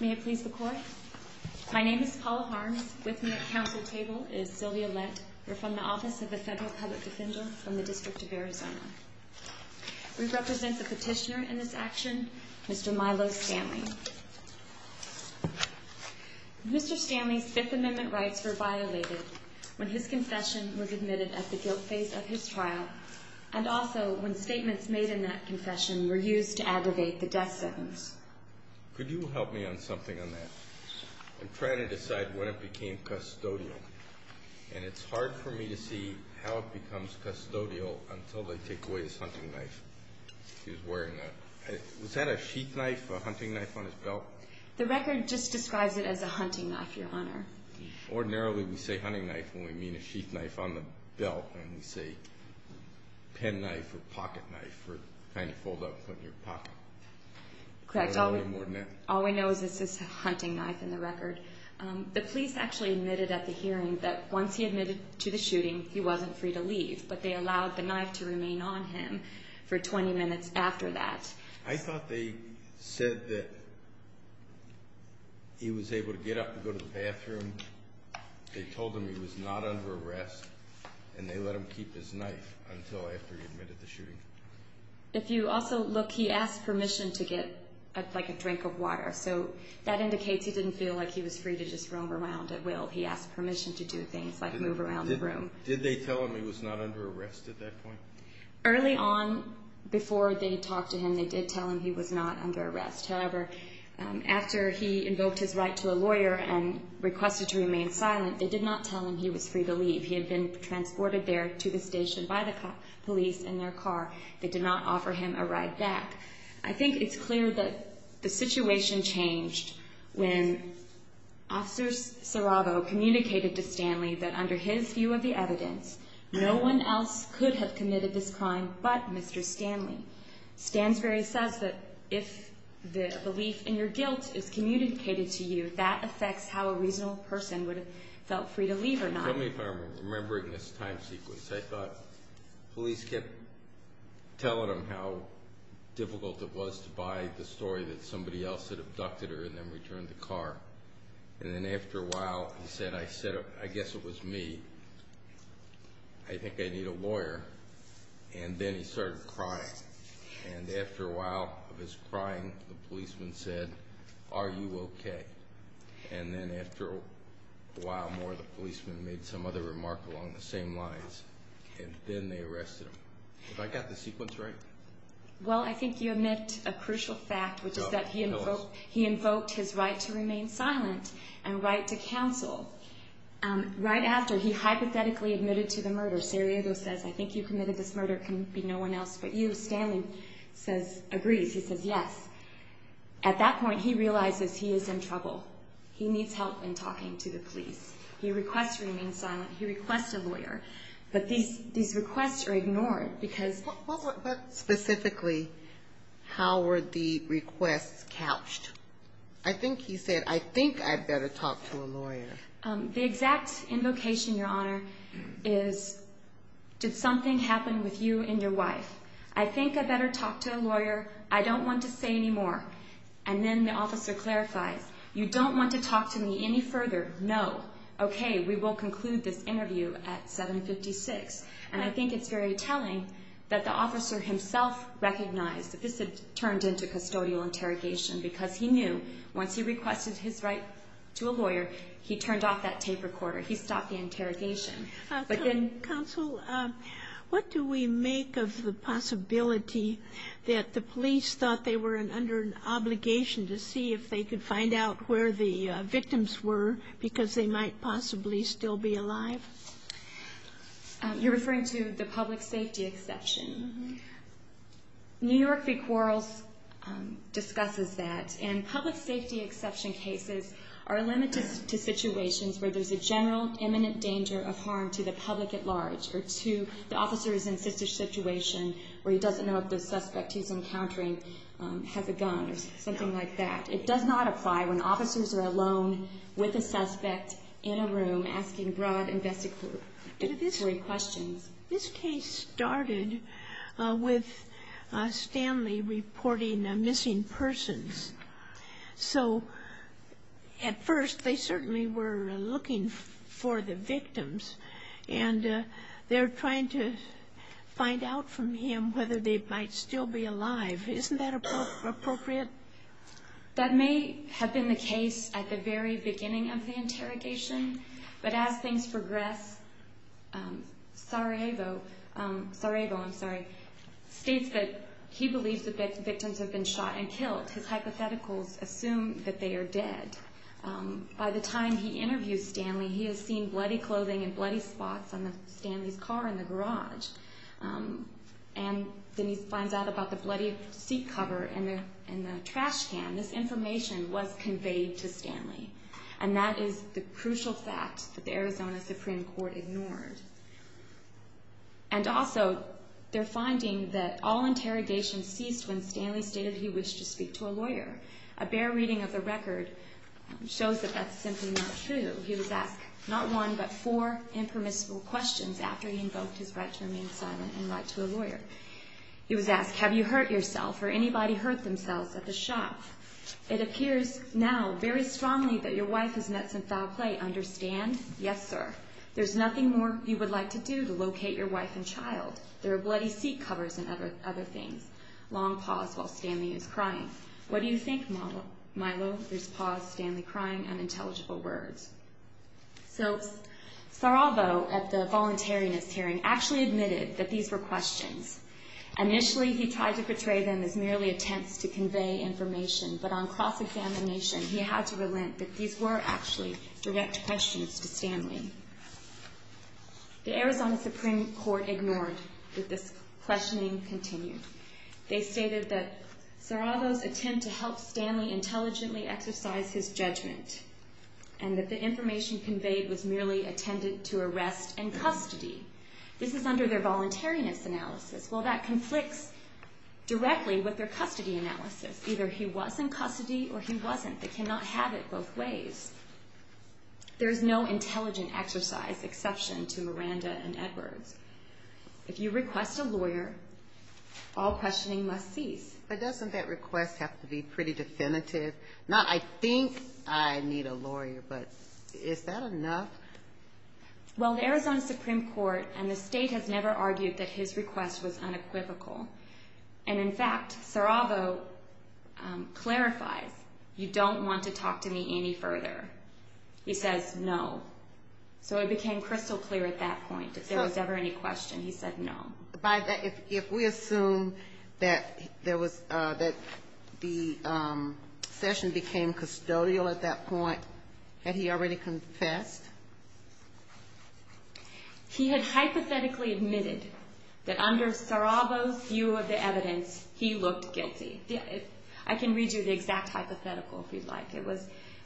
May it please the Court? My name is Paula Barnes. This month's counsel's table is Billy Ouellette. We're from the Office of the Federal Public Defender from the District of Arizona. We represent the petitioner in this action, Mr. Milo Stanley. Mr. Stanley's Fifth Amendment rights were violated when his concessions were admitted at the guilt phase of his trial, and also when statements made in that concession were used to abrogate the death sentence. Could you help me on something on that? I'm trying to decide when it became custodial, and it's hard for me to see how it becomes custodial until they take away his hunting knife. Was that a sheath knife, a hunting knife on his belt? The record just describes it as a hunting knife, Your Honor. Ordinarily, we say hunting knife when we mean a sheath knife on the belt, and we say pen knife or pocket knife for trying to hold up something in your pocket. Correct. All we know is that this is a hunting knife in the record. The police actually admitted at the hearing that once he admitted to the shooting, he wasn't free to leave, but they allowed the knife to remain on him for 20 minutes after that. I thought they said that he was able to get up and go to the bathroom. They told him he was not under arrest, and they let him keep his knife until after he admitted to the shooting. If you also look, he asked permission to get a drink of water, so that indicates he didn't feel like he was free to just roam around at will. He asked permission to do things like move around the room. Did they tell him he was not under arrest at that point? Early on, before they talked to him, they did tell him he was not under arrest. However, after he invoked his right to a lawyer and requested to remain silent, they did not tell him he was free to leave. He had been transported there to the station by the police in their car. They did not offer him a ride back. I think it's clear that the situation changed when Officer Serrato communicated to Stanley that under his view of the evidence, no one else could have committed this crime but Mr. Stanley. Stan Ferry says that if the belief in your guilt is communicated to you, that affects how a reasonable person would have felt free to leave or not. Tell me if I remember it in this time sequence. I thought police kept telling him how difficult it was to buy the story that somebody else had abducted her and then returned the car. And then after a while, he said, I said, I guess it was me. I think I need a lawyer. And then he started crying. And after a while of his crying, the policeman said, are you okay? And then after a while more, the policeman made some other remark along the same lines. And then they arrested him. Have I got the sequence right? Well, I think you omit a crucial fact, which is that he invoked his right to remain silent and right to counsel. Right after, he hypothetically admitted to the murder. Serrato says, I think you committed this murder. It can't be no one else but you. Stanley agrees. He says, yes. At that point, he realized that he is in trouble. He needs help in talking to the police. He requests a lawyer. But these requests are ignored because... But specifically, how were the requests couched? I think you said, I think I'd better talk to a lawyer. The exact invocation, Your Honor, is did something happen with you and your wife? I think I'd better talk to a lawyer. I don't want to stay anymore. And then the officer clarified, you don't want to talk to me any further? No. Okay, we will conclude this interview at 756. And I think it's very telling that the officer himself recognized that this had turned into custodial interrogation because he knew once he requested his right to a lawyer, he turned off that tape recorder. He stopped the interrogation. Counsel, what do we make of the possibility that the police thought they were under an obligation to see if they could find out where the victims were because they might possibly still be alive? You're referring to the public safety exception. New York State Courts discusses that. And public safety exception cases are limited to situations where there's a general imminent danger of harm to the public at large. This case started with Stanley reporting a missing person. So, at first, they certainly were looking for the victims. And they're trying to find out from him whether they might still be alive. Isn't that appropriate? That may have been the case at the very beginning of the interrogation. But as things progressed, Sarajevo, I'm sorry, states that he believes the victims have been shot and killed because hypotheticals assume that they are dead. By the time he interviewed Stanley, he had seen bloody clothing and bloody spots on Stanley's car in the garage. And then he finds out about the bloody seat cover and the trash can. This information was conveyed to Stanley. And that is the crucial fact that the Arizona Supreme Court ignored. And also, they're finding that all interrogations ceased when Stanley stated he wished to speak to a lawyer. A bare reading of the record shows that that's simply not true. He was asked not one but four impermissible questions after he invoked his right to remain silent and write to a lawyer. He was asked, have you hurt yourself or anybody hurt themselves at the shot? It appears now very strongly that your wife has met some foul play. Understand? Yes, sir. There's nothing more you would like to do to locate your wife and child. There are bloody seat covers and other things. Long pause while Stanley is crying. What do you think, Milo? This pause, Stanley crying, unintelligible words. So, Saravo at the voluntary miscarriage actually admitted that these were questions. Initially, he tried to portray them as merely attempts to convey information. But on cross-examination, he had to relent that these were actually direct questions to Stanley. The Arizona Supreme Court ignored that the questioning continued. They stated that Saravo's attempt to help Stanley intelligently exercise his judgment and that the information conveyed was merely intended to arrest and custody. This is under their voluntariness analysis. Well, that conflicts directly with their custody analysis. Either he was in custody or he wasn't. They cannot have it both ways. There's no intelligent exercise exception to Miranda and Edwards. If you request a lawyer, all questioning must cease. But doesn't that request have to be pretty definitive? Not, I think I need a lawyer, but is that enough? Well, the Arizona Supreme Court and the state have never argued that his request was unequivocal. And in fact, Saravo clarified, you don't want to talk to me any further. He says, no. So, it became crystal clear at that point that there was never any question. He says, no. If we assume that the session became custodial at that point, had he already confessed? He had hypothetically admitted that under Saravo's view of the evidence, he looked guilty. I can read you the exact hypothetical he'd like.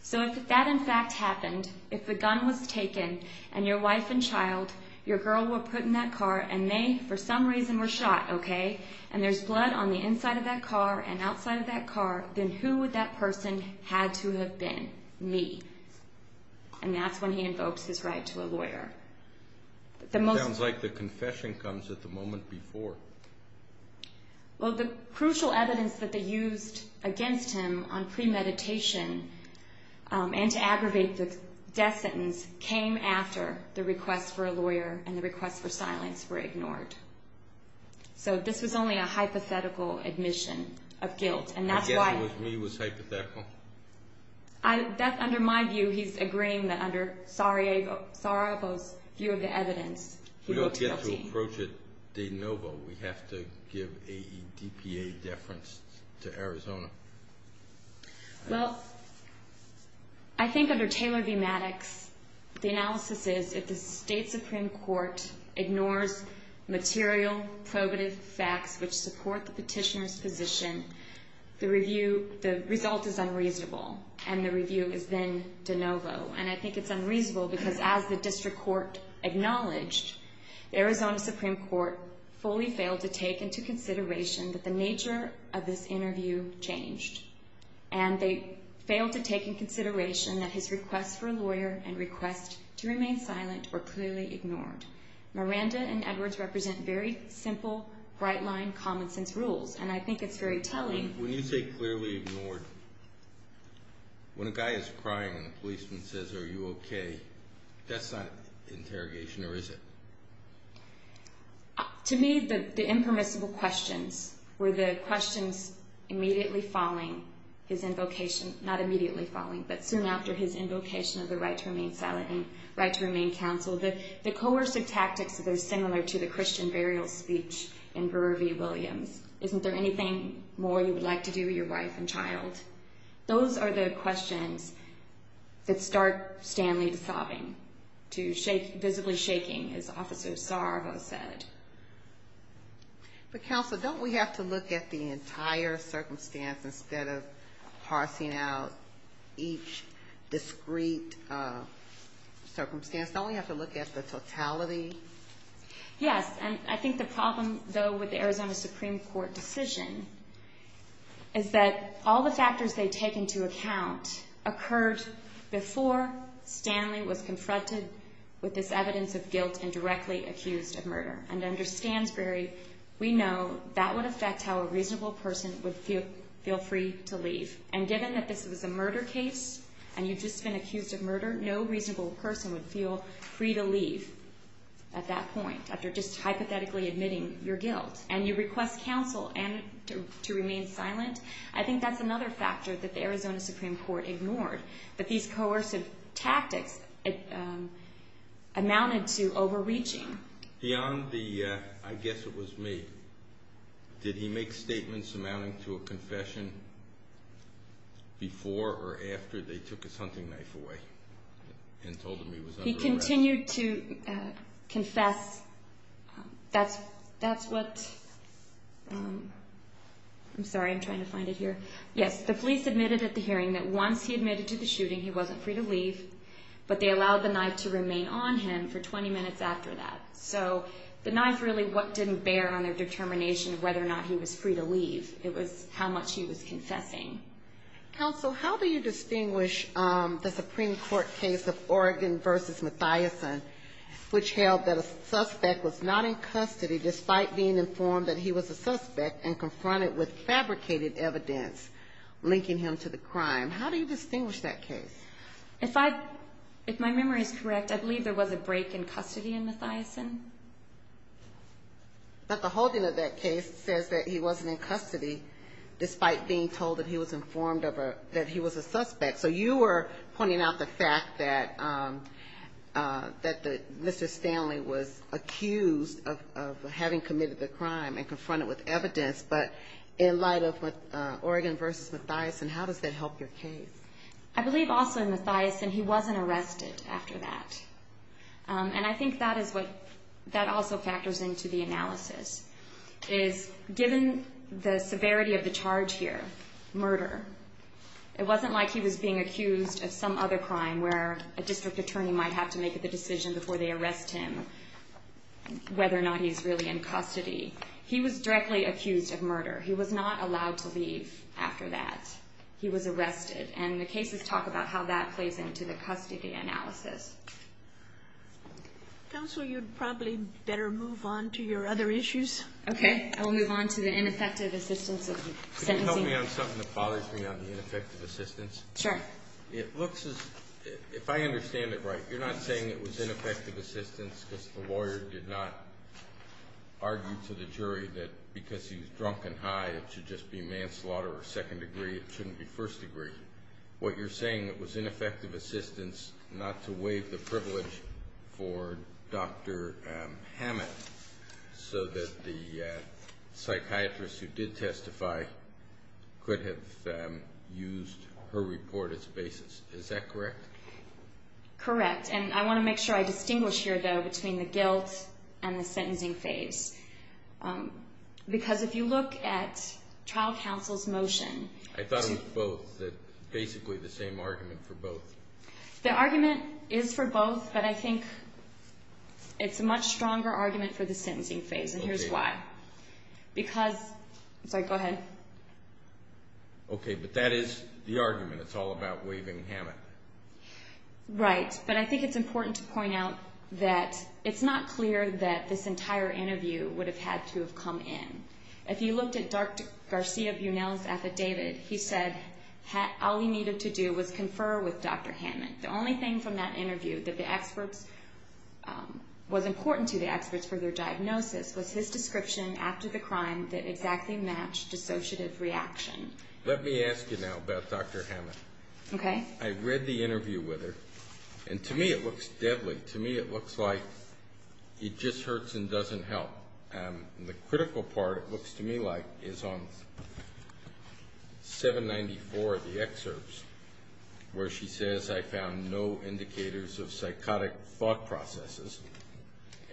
So, if that in fact happened, if the gun was taken and your wife and child, your girl were put in that car and they, for some reason, were shot, okay, and there's blood on the inside of that car and outside of that car, then who would that person have to have been? Me. And that's when he invokes his right to a lawyer. It sounds like the confession comes at the moment before. Well, the crucial evidence that they used against him on premeditation and to aggravate the death sentence came after the request for a lawyer and the request for silence were ignored. So, this was only a hypothetical admission of guilt. Again, he was hypothetical. That's under my view. He's agreeing that under Saravo's view of the evidence, he looked guilty. We don't get to approach it de novo. We have to give a DPA deference to Arizona. Well, I think under Taylor v. Maddox, the analysis is that the state supreme court ignored material probative facts which support the petitioner's position. The result is unreasonable and the review is then de novo. And I think it's unreasonable because as the district court acknowledged, Arizona supreme court fully failed to take into consideration that the nature of this interview changed. And they failed to take into consideration that his request for a lawyer and request to remain silent were clearly ignored. Miranda and Edwards represent very simple, bright lines, common sense rules. And I think it's very telling. When you say clearly ignored, when a guy is crying and a policeman says, are you okay, that's not an interrogation, or is it? To me, the impermissible questions were the questions immediately following his invocation. Not immediately following, but soon after his invocation of the right to remain silent and right to remain counsel. The coercive tactics that are similar to the Christian burial speech in Burr v. Williams. Isn't there anything more you would like to do with your wife and child? Those are the questions that start Stanley sobbing, to visibly shaking, as Officer Starr has said. But counsel, don't we have to look at the entire circumstance instead of parsing out each discrete circumstance? Don't we have to look at the totality? Yes, and I think the problem, though, with the Arizona supreme court decision is that all the factors they take into account occurred before Stanley was confronted with this evidence of guilt and directly accused of murder. And to understand, Barry, we know that would affect how a reasonable person would feel free to leave. And given that this was a murder case, and you've just been accused of murder, no reasonable person would feel free to leave at that point, after just hypothetically admitting your guilt. And you request counsel to remain silent, I think that's another factor that the Arizona supreme court ignored. But these coercive tactics amounted to overreaching. Beyond the, I guess it was me, did he make statements amounting to a confession before or after they took his hunting knife away and told him he was under arrest? He continued to confess. That's what, I'm sorry, I'm trying to find it here. Yes, the police admitted at the hearing that once he admitted to the shooting, he wasn't free to leave, but they allowed the knife to remain on him for 20 minutes after that. So the knife really didn't bear on their determination of whether or not he was free to leave. It was how much he was confessing. Counsel, how do you distinguish the supreme court case of Oregon versus Mathiasson, which held that a suspect was not in custody despite being informed that he was a suspect and confronted with fabricated evidence linking him to the crime? How do you distinguish that case? If I, if my memory is correct, I believe there was a break in custody in Mathiasson. But the holding of that case says that he wasn't in custody despite being told that he was informed that he was a suspect. So you were pointing out the fact that Mr. Stanley was accused of having committed the crime and confronted with evidence, but in light of Oregon versus Mathiasson, how does that help your case? I believe also in Mathiasson, he wasn't arrested after that. And I think that is what, that also factors into the analysis, is given the severity of the charge here, murder, it wasn't like he was being accused of some other crime where a district attorney might have to make the decision before they arrest him whether or not he's really in custody. He was directly accused of murder. He was not allowed to leave after that. He was arrested. And the cases talk about how that plays into the custody analysis. Counsel, you'd probably better move on to your other issues. Okay. I'll move on to the ineffective assistance. Could you help me on something that bothers me on the ineffective assistance? Sure. If I understand it right, you're not saying it was ineffective assistance because the lawyer did not argue to the jury that because he's drunk and high it should just be manslaughter or second degree, it shouldn't be first degree. What you're saying, it was ineffective assistance not to waive the privilege for Dr. Hammett so that the psychiatrist who did testify could have used her report as a basis. Is that correct? Correct. And I want to make sure I distinguish here, though, between the guilt and the sentencing phase. Because if you look at trial counsel's motion. I thought it was both. It's basically the same argument for both. The argument is for both, but I think it's a much stronger argument for the sentencing phase. And here's why. Because... Go ahead. Okay, but that is the argument. It's all about waiving Hammett. Right. But I think it's important to point out that it's not clear that this entire interview would have had to have come in. If you looked at Dr. Garcia-Bunel's affidavit, he said all he needed to do was confer with Dr. Hammett. The only thing from that interview that was important to the experts for their diagnosis was his description after the crime that exactly matched the associate's reaction. Let me ask you now about Dr. Hammett. Okay. I read the interview with her, and to me it looks deadly. To me it looks like he just hurts and doesn't help. And the critical part, it looks to me like, is on 794 of the excerpts where she says, I found no indicators of psychotic thought processes.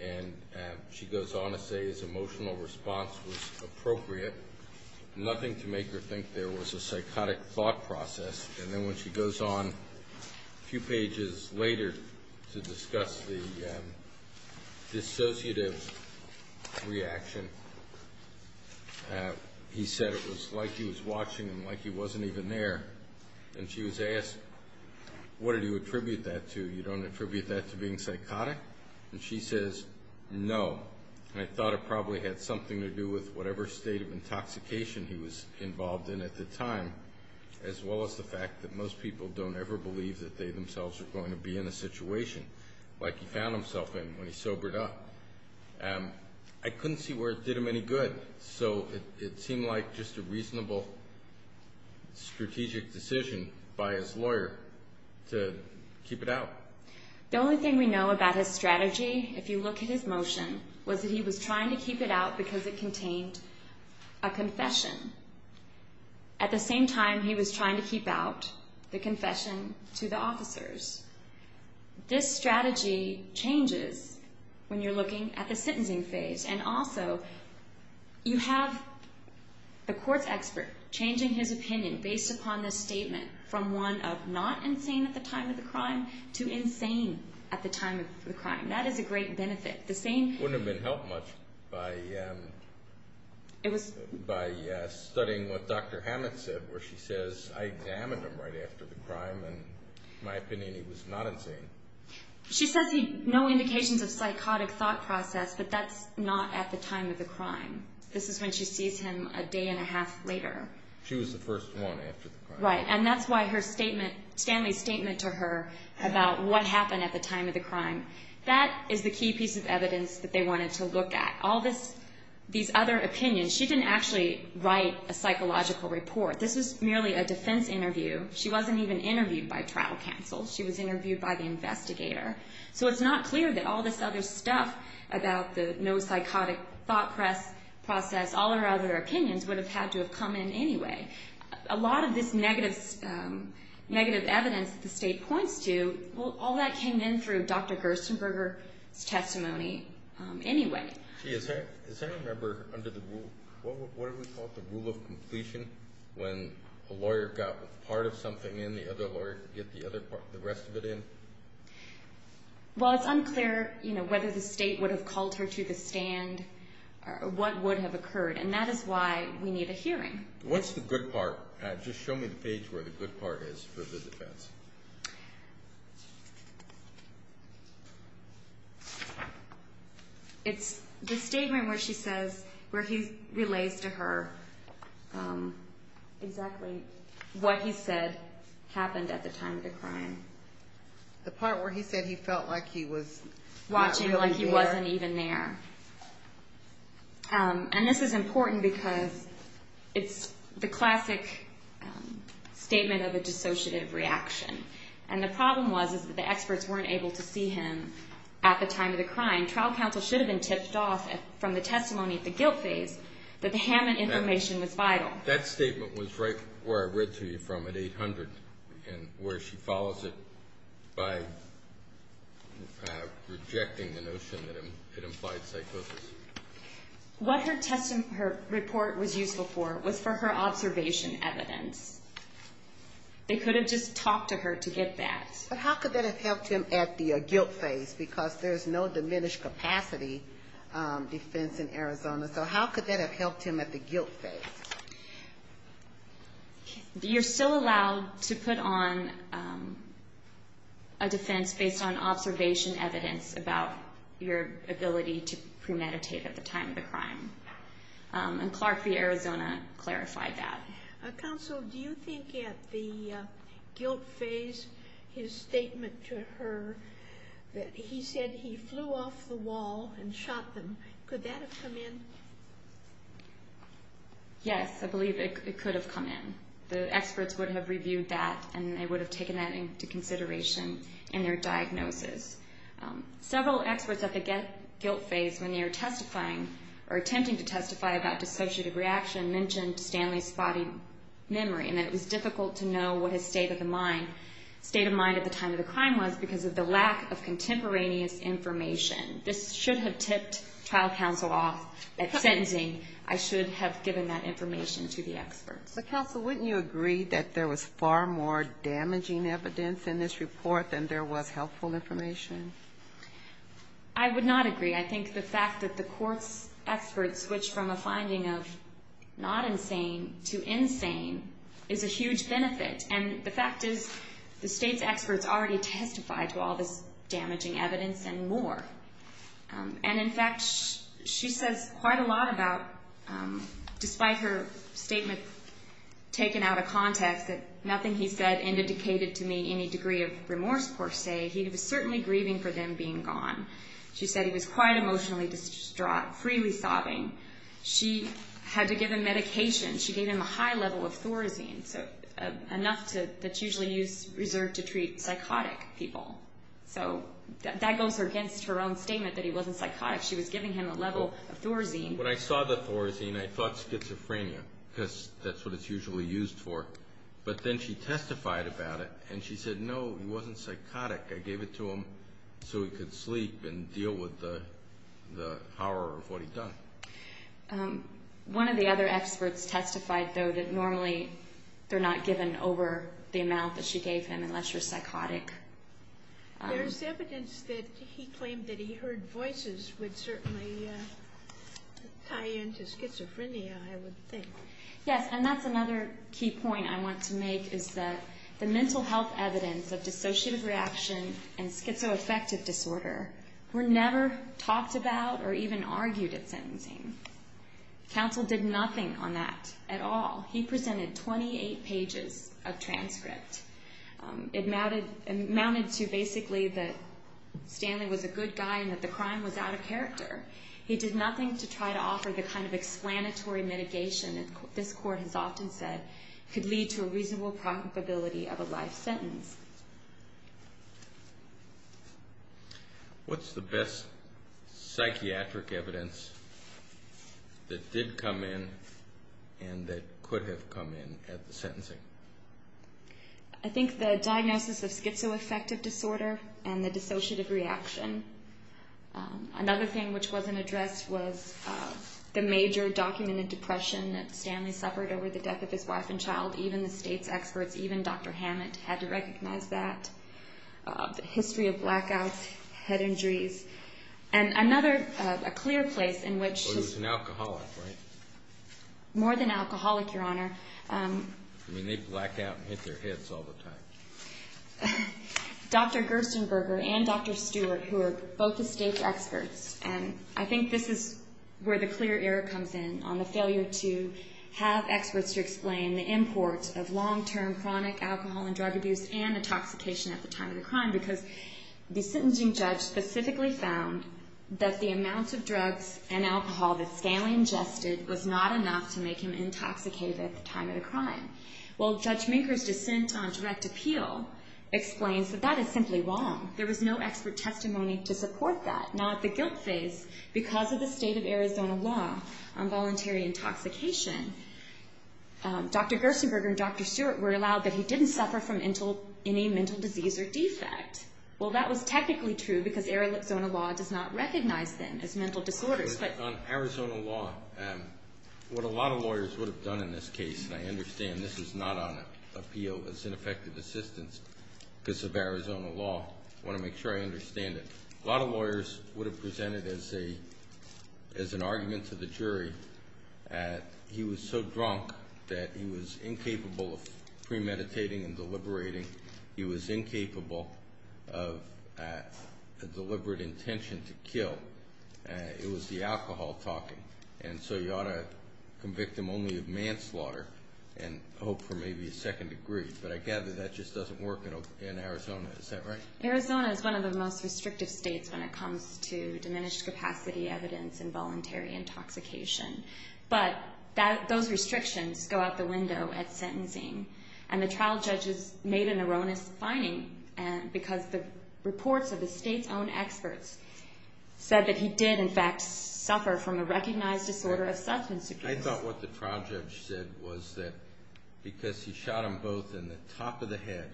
And she goes on to say his emotional response was appropriate. Nothing to make her think there was a psychotic thought process. And then when she goes on a few pages later to discuss the dissociative reaction, he said it was like he was watching and like he wasn't even there. And she was asked, what do you attribute that to? You don't attribute that to being psychotic? And she says, no. I thought it probably had something to do with whatever state of intoxication he was involved in at the time, as well as the fact that most people don't ever believe that they themselves are going to be in a situation like he found himself in when he sobered up. I couldn't see where it did him any good. So it seemed like just a reasonable strategic decision by his lawyer to keep it out. The only thing we know about his strategy, if you look at his motion, was that he was trying to keep it out because it contained a concession. At the same time, he was trying to keep out the concession to the officers. This strategy changes when you're looking at the sentencing phase. And also, you have the court experts changing his opinion based upon this statement from one of not insane at the time of the crime to insane at the time of the crime. That is a great benefit. It wouldn't have been helped much by studying what Dr. Hammett said, where she says, I examined him right after the crime, and in my opinion, he was not insane. She says he's no indication of a psychotic thought process, but that's not at the time of the crime. This is when she sees him a day and a half later. She was the first one after the crime. Right, and that's why her statement, Stanley's statement to her about what happened at the time of the crime, that is the key piece of evidence that they wanted to look at. All these other opinions, she didn't actually write a psychological report. This was merely a defense interview. She wasn't even interviewed by trial counsel. She was interviewed by the investigator. So it's not clear that all this other stuff about the no psychotic thought process, all of her other opinions would have had to have come in anyway. A lot of this negative evidence the state points to, all that came in through Dr. Gerstenberger's testimony anyway. Gee, is there a number under the rule, what do we call it, the rule of completion, when a lawyer got part of something in, the other lawyer gets the rest of it in? Well, it's unclear whether the state would have called her to the stand or what would have occurred, and that is why we need a hearing. What's the good part? Just show me the page where the good part is for the defense. It's the statement where she says, where he relates to her exactly what he said happened at the time of the crime. The part where he said he felt like he was watching like he wasn't even there. And this is important because it's the classic statement of a dissociative reaction. And the problem was that the experts weren't able to see him at the time of the crime. Trial counsel should have been tipped off from the testimony of the guilty that the Hammond information was vital. That statement was right where I read to you from, at 800, and where she follows it by rejecting the notion that it implied psychosis. What her report was useful for was for her observation evidence. They could have just talked to her to get that. But how could that have helped him at the guilt phase? Because there's no diminished capacity defense in Arizona. So how could that have helped him at the guilt phase? You're still allowed to put on a defense based on observation evidence about your ability to premeditate at the time of the crime. And Clarke v. Arizona clarified that. Counsel, do you think at the guilt phase his statement to her that he said he flew off the wall and shot them, could that have come in? Yes, I believe it could have come in. The experts would have reviewed that and they would have taken that into consideration in their diagnosis. Several experts at the guilt phase when they were testifying or attempting to testify about dyslexia, the reaction mentioned Stanley's body memory. And it was difficult to know what his state of mind at the time of the crime was because of the lack of contemporaneous information. This should have tipped trial counsel off at sentencing. I should have given that information to the experts. But counsel, wouldn't you agree that there was far more damaging evidence in this report than there was helpful information? I would not agree. I think the fact that the court's experts switched from a finding of not insane to insane is a huge benefit. And the fact is the state's experts already testified to all this damaging evidence and more. And in fact, she says quite a lot about, despite her statements taken out of context, that nothing he said indicated to me any degree of remorse, per se. He was certainly grieving for them being gone. She said he was quite emotionally distraught, freely sobbing. She had to give him medication. She gave him a high level of Thorazine, a nusk that's usually reserved to treat psychotic people. So that goes against her own statement that he wasn't psychotic. She was giving him a level of Thorazine. When I saw the Thorazine, I thought schizophrenia because that's what it's usually used for. But then she testified about it, and she said, no, he wasn't psychotic. I gave it to him so he could sleep and deal with the horror of what he'd done. One of the other experts testified, though, that normally they're not given over the amount that she gave him unless you're psychotic. There's evidence that he claimed that he heard voices would certainly tie into schizophrenia, I would think. Yes, and that's another key point I want to make is that the mental health evidence of dissociative reaction and schizoaffective disorder were never talked about or even argued at sentencing. Counsel did nothing on that at all. He presented 28 pages of transcripts. It amounted to basically that Stanley was a good guy and that the crime was out of character. He did nothing to try to offer the kind of explanatory mitigation, as this court has often said, could lead to a reasonable probability of a life sentence. What's the best psychiatric evidence that did come in and that could have come in at the sentencing? I think the diagnosis of schizoaffective disorder and the dissociative reaction. Another thing which wasn't addressed was the major documented depression that Stanley suffered over the death of his wife and child. Even the state's experts, even Dr. Hammond, had to recognize that. The history of blackouts, head injuries, and another clear place in which... He was an alcoholic, right? More than alcoholic, Your Honor. I mean, they blacked out and hit their heads all the time. Dr. Gerstenberger and Dr. Stewart, who are both the state's experts, I think this is where the clear error comes in on the failure to have experts to explain the import of long-term chronic alcohol and drug abuse and intoxication at the time of the crime because the sentencing judge specifically found that the amount of drugs and alcohol that Stanley ingested was not enough to make him intoxicated at the time of the crime. Well, Judge Meeker's dissent on a direct appeal explains that that is simply wrong. There was no expert testimony to support that. Now, at the guilt stage, because of the state of Arizona law on voluntary intoxication, Dr. Gerstenberger and Dr. Stewart were allowed that he didn't suffer from any mental disease or defect. Well, that was technically true because Arizona law does not recognize them as mental disorders. On Arizona law, what a lot of lawyers would have done in this case, and I understand this is not on appeal as ineffective assistance because of Arizona law. I want to make sure I understand it. A lot of lawyers would have presented as an argument to the jury that he was so drunk that he was incapable of premeditating and deliberating. He was incapable of a deliberate intention to kill. It was the alcohol talking, and so you ought to convict him only of manslaughter and hope for maybe a second degree, but I gather that just doesn't work in Arizona. Is that right? Arizona is one of the most restrictive states when it comes to diminished capacity evidence in voluntary intoxication, but those restrictions go out the window at sentencing, and the trial judges made an erroneous finding because the reports of the state's own experts said that he did, in fact, suffer from a recognized disorder of substance abuse. I thought what the trial judge said was that because he shot him both in the top of the head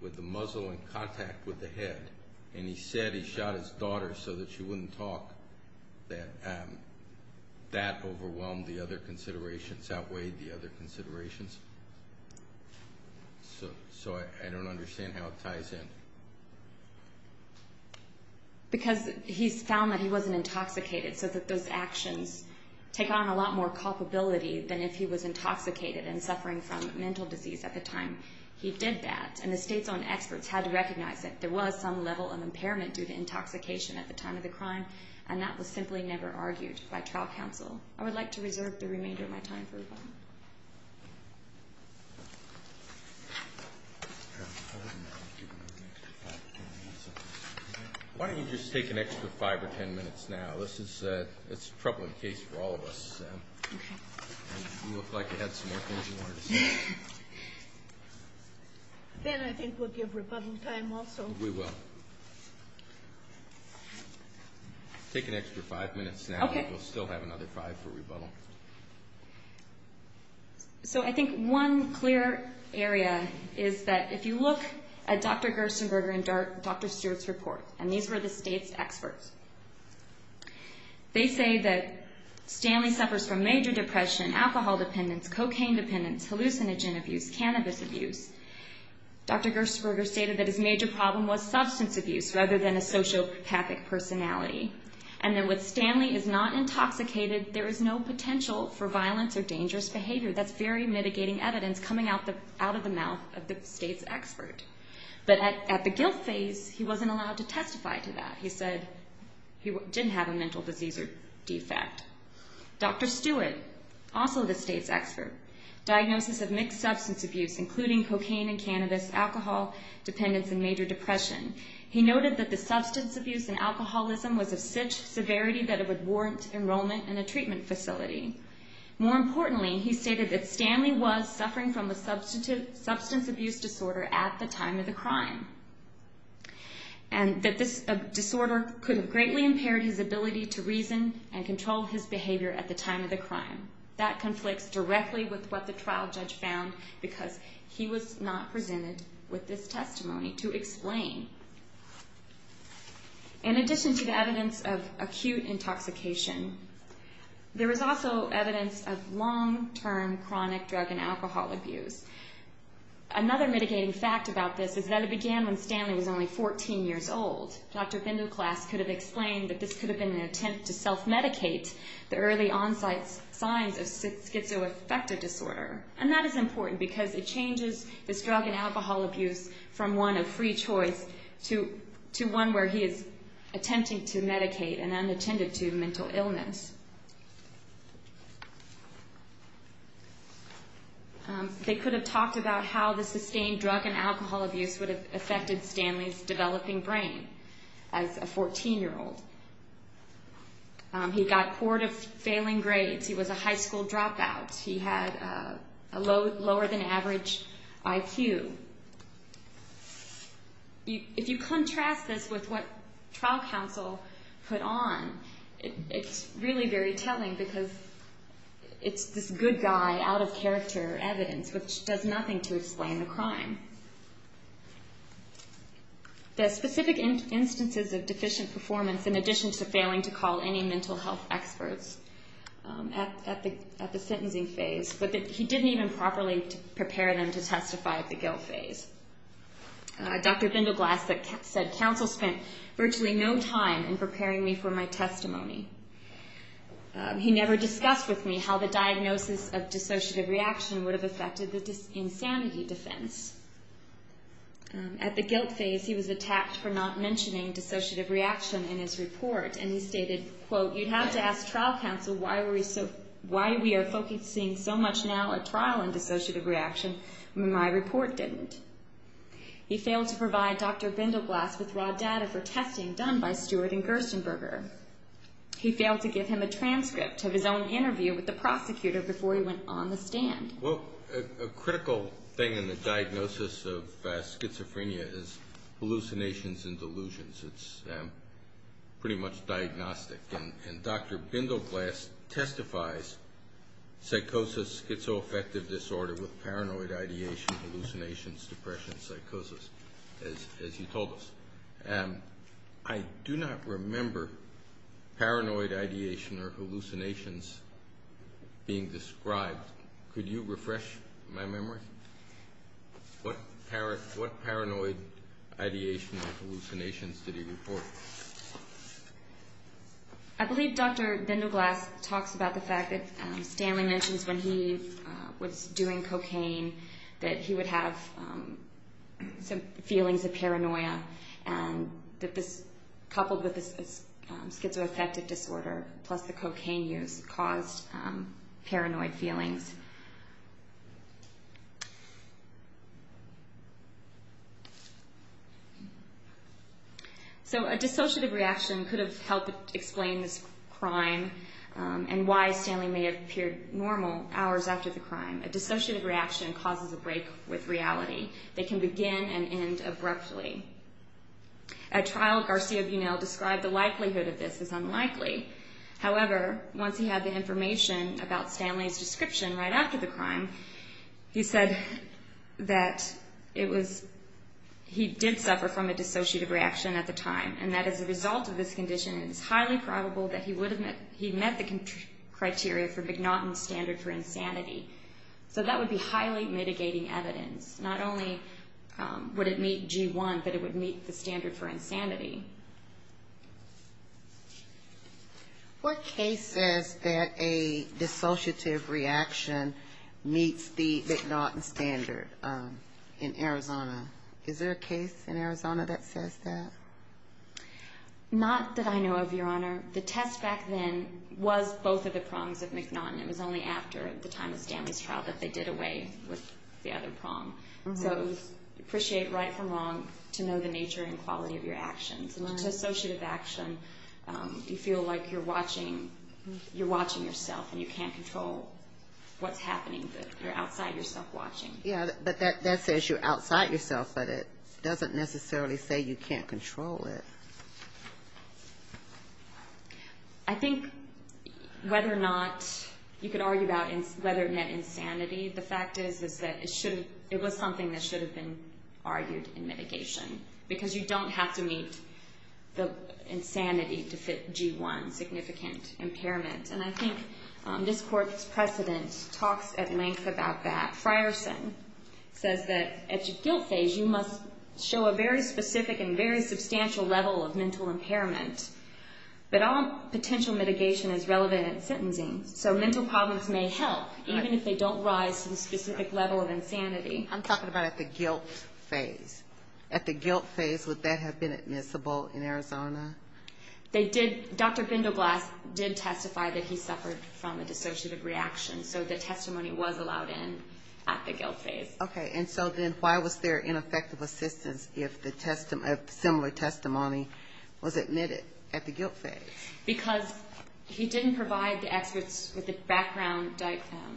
with the muzzle in contact with the head, and he said he shot his daughter so that she wouldn't talk, that that overwhelmed the other considerations, outweighed the other considerations, so I don't understand how it ties in. Because he found that he wasn't intoxicated, so that those actions take on a lot more causability than if he was intoxicated and suffering from mental disease at the time he did that, and the state's own experts had to recognize that there was some level of impairment due to intoxication at the time of the crime, and that was simply never argued by trial counsel. I would like to reserve the remainder of my time for a moment. Why don't we just take an extra five or ten minutes now? This is a troubling case for all of us. You look like you have some more things you want to say. Then I think we'll give Republican time also. We will. Take an extra five minutes now. We'll still have another five for rebuttal. So I think one clear area is that if you look at Dr. Gerstenberger and Dr. Stewart's report, and these were the state's experts, they say that Stanley suffers from major depression, alcohol dependence, cocaine dependence, hallucinogen abuse, cannabis abuse. Dr. Gerstenberger stated that his major problem was substance abuse rather than a sociopathic personality. And there was Stanley is not intoxicated. There is no potential for violence or dangerous behavior. That's very mitigating evidence coming out of the mouth of the state's expert. But at the guilt phase, he wasn't allowed to testify to that. He said he didn't have a mental disease defect. Dr. Stewart, also the state's expert, diagnosed with mixed substance abuse including cocaine and cannabis, alcohol dependence, and major depression. He noted that the substance abuse and alcoholism was of such severity that it would warrant enrollment in a treatment facility. More importantly, he stated that Stanley was suffering from a substance abuse disorder at the time of the crime. And that this disorder could have greatly impaired his ability to reason and controlled his behavior at the time of the crime. That conflicts directly with what the trial judge found because he was not presented with this testimony to explain. In addition to the evidence of acute intoxication, there is also evidence of long-term chronic drug and alcohol abuse. Another mitigating fact about this is that it began when Stanley was only 14 years old. Dr. Bindouklaas could have explained that this could have been an attempt to self-medicate the early onsite signs of schizoaffective disorder. And that is important because it changes this drug and alcohol abuse from one of free choice to one where he is attempting to medicate an unattended to mental illness. They could have talked about how the sustained drug and alcohol abuse would have affected Stanley's developing brain as a 14-year-old. He got poor to failing grades. He was a high school dropout. He had a lower than average IQ. If you contrast this with what trial counsel put on, it really is a contrast. It's actually very telling because it's this good guy, out-of-character evidence, which does nothing to explain the crime. The specific instances of deficient performance, in addition to failing to call any mental health experts at the sentencing phase, but that he didn't even properly prepare them to testify at the guilt phase. Dr. Bindouklaas said, Counsel spent virtually no time in preparing me for my testimony. He never discussed with me how the diagnosis of dissociative reaction would have affected the insanity defense. At the guilt phase, he was attached for not mentioning dissociative reaction in his report. And he stated, You'd have to ask trial counsel why we are focusing so much now on trial and dissociative reaction when my report didn't. He failed to provide Dr. Bindouklaas with raw data for testing done by Stewart and Gersonberger. He failed to give him a transcript of his own interview with the prosecutor before he went on the stand. A critical thing in the diagnosis of schizophrenia is hallucinations and delusions. It's pretty much diagnostic. And Dr. Bindouklaas testifies psychosis, schizoaffective disorder with paranoid ideation, hallucinations, depression, and psychosis, as he told us. And I do not remember paranoid ideation or hallucinations being described. Could you refresh my memory? What paranoid ideation or hallucinations did he report? I believe Dr. Bindouklaas talked about the fact that Stanley mentions when he was doing cocaine that he would have some feelings of paranoia that just coupled with his schizoaffective disorder plus the cocaine use caused paranoid feelings. So a dissociative reaction could have helped explain the crime and why Stanley may have appeared normal hours after the crime. A dissociative reaction causes a break with reality. It can begin and end abruptly. A child, Garcia-Bunel, described the likelihood of this as unlikely. However, once he had the information about Stanley's description right after the crime, he said that he did suffer from a dissociative reaction at the time and that as a result of this condition, it's highly probable that he met the criteria for McNaughton's standard for insanity. So that would be highly mitigating evidence. Not only would it meet G1, but it would meet the standard for insanity. What case said that a dissociative reaction meets the McNaughton standard in Arizona? Is there a case in Arizona that says that? Not that I know of, Your Honor. The test back then was both of the crimes of McNaughton. It was only after the time of Stanley's trial that they did away with the other crime. So we appreciate right from wrong to know the nature and quality of your actions. To dissociative action, you feel like you're watching yourself and you can't control what's happening. You're outside yourself watching. Yeah, but that says you're outside yourself, but it doesn't necessarily say you can't control it. I think whether or not you could argue about whether it met insanity, the fact is that it was something that should have been argued in mitigation. Because you don't have to meet the insanity to fit G1 significant impairment. And I think this court's precedent talks at length about that. Frierson says that at your guilt phase, you must show a very specific and very substantial level of mental impairment. But all potential mitigation is relevant in sentencing. So mental problems may help, even if they don't rise to a specific level of insanity. I'm talking about at the guilt phase. At the guilt phase, would that have been admissible in Arizona? They did. Dr. Findelblatt did testify that he suffered from a dissociative reaction. So the testimony was allowed in at the guilt phase. Okay, and so then why was there ineffective assistance if similar testimony was admitted at the guilt phase? Because he didn't provide the experts with the background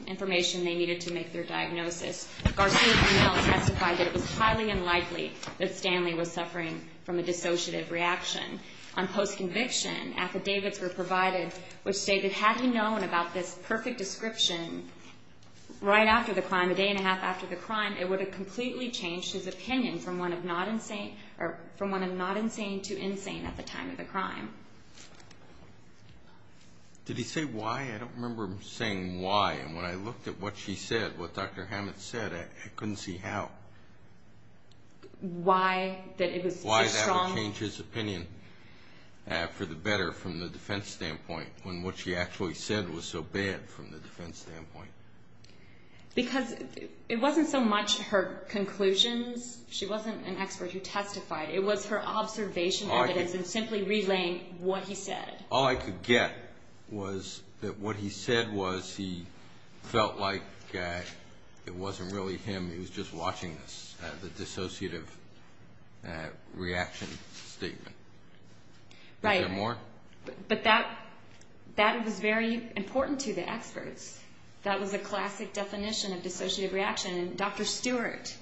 information they needed to make their diagnosis. Dr. Findelblatt testified that it was highly unlikely that Stanley was suffering from a dissociative reaction. On post-conviction, affidavits were provided which stated that had he known about this perfect description right after the crime, a day and a half after the crime, it would have completely changed his opinion from one of not insane to insane at the time of the crime. Did he say why? I don't remember him saying why. And when I looked at what she said, what Dr. Hammett said, I couldn't see how. Why that it was his problem? Why that would change his opinion for the better from the defense standpoint when what she actually said was so bad from the defense standpoint. Because it wasn't so much her conclusion. She wasn't an expert who testified. It was her observation evidence and simply relaying what he said. All I could get was that what he said was he felt like it wasn't really him. He was just watching the dissociative reaction. Right. Is there more? But that is very important to the experts. That was a classic definition of dissociative reaction. Dr. Stewart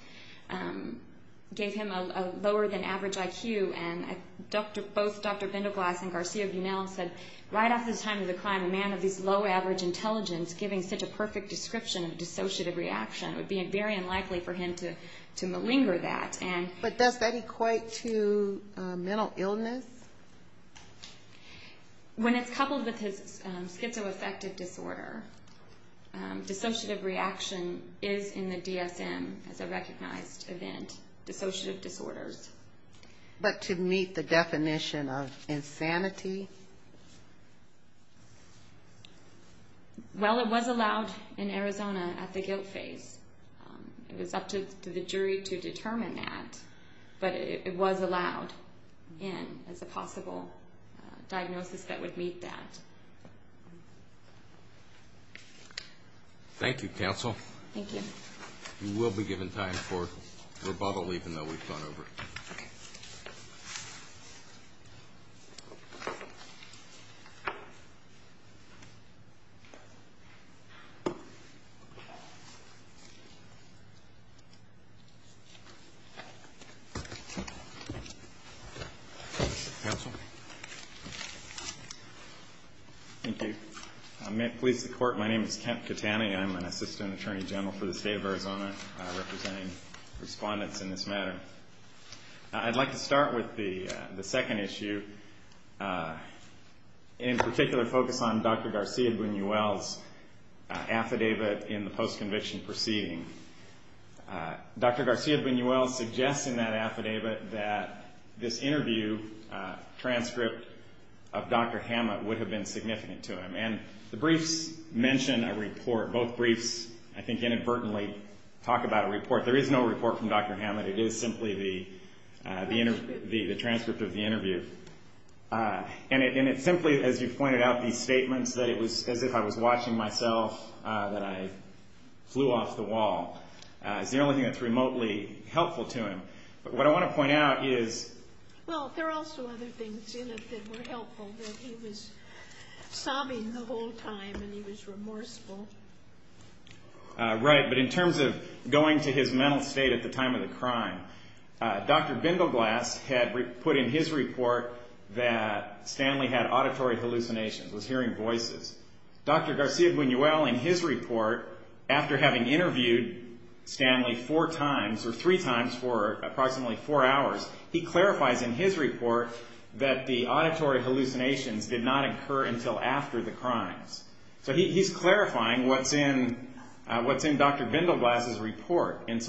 gave him a lower than average IQ. And as both Dr. Vindoglas and Garcia-Bunel said, right at the time of the crime, a man of this low average intelligence giving such a perfect description of dissociative reaction would be very unlikely for him to malinger that. But does that equate to mental illness? When it's coupled with his schizoaffective disorder, dissociative reaction is in the DSM, the recognized event, dissociative disorders. But to meet the definition of insanity? Well, it was allowed in Arizona at the guilt phase. It was up to the jury to determine that. But it was allowed in as a possible diagnosis that would meet that. Thank you, counsel. Thank you. We will be given time for rebuttal even though we've gone over it. Counsel? Thank you. May it please the Court, my name is Kent Titani. I'm an assistant attorney general for the state of Arizona representing respondents in this matter. I'd like to start with the second issue. In particular, I'll focus on Dr. Garcia-Bunuel's affidavit in the post-conviction proceeding. Dr. Garcia-Bunuel suggests in that affidavit that this interview transcript of Dr. Hammett would have been significant to him. And the briefs mention a report. Both briefs, I think, inadvertently talk about a report. There is no report from Dr. Hammett. It is simply the transcript of the interview. And it's simply, as you've pointed out, these statements that it was as if I was watching myself that I flew off the wall. It's the only thing that's remotely helpful to him. But what I want to point out is... Well, there are also other things in it that were helpful. He was sobbing the whole time, and he was remorseful. Right, but in terms of going to his mental state at the time of the crime, Dr. Bindleglass had put in his report that Stanley had auditory hallucinations, was hearing voices. Dr. Garcia-Bunuel, in his report, after having interviewed Stanley four times, or three times for approximately four hours, he clarifies in his report that the auditory hallucinations did not occur until after the crime. So he's clarifying what's in Dr. Bindleglass's report. And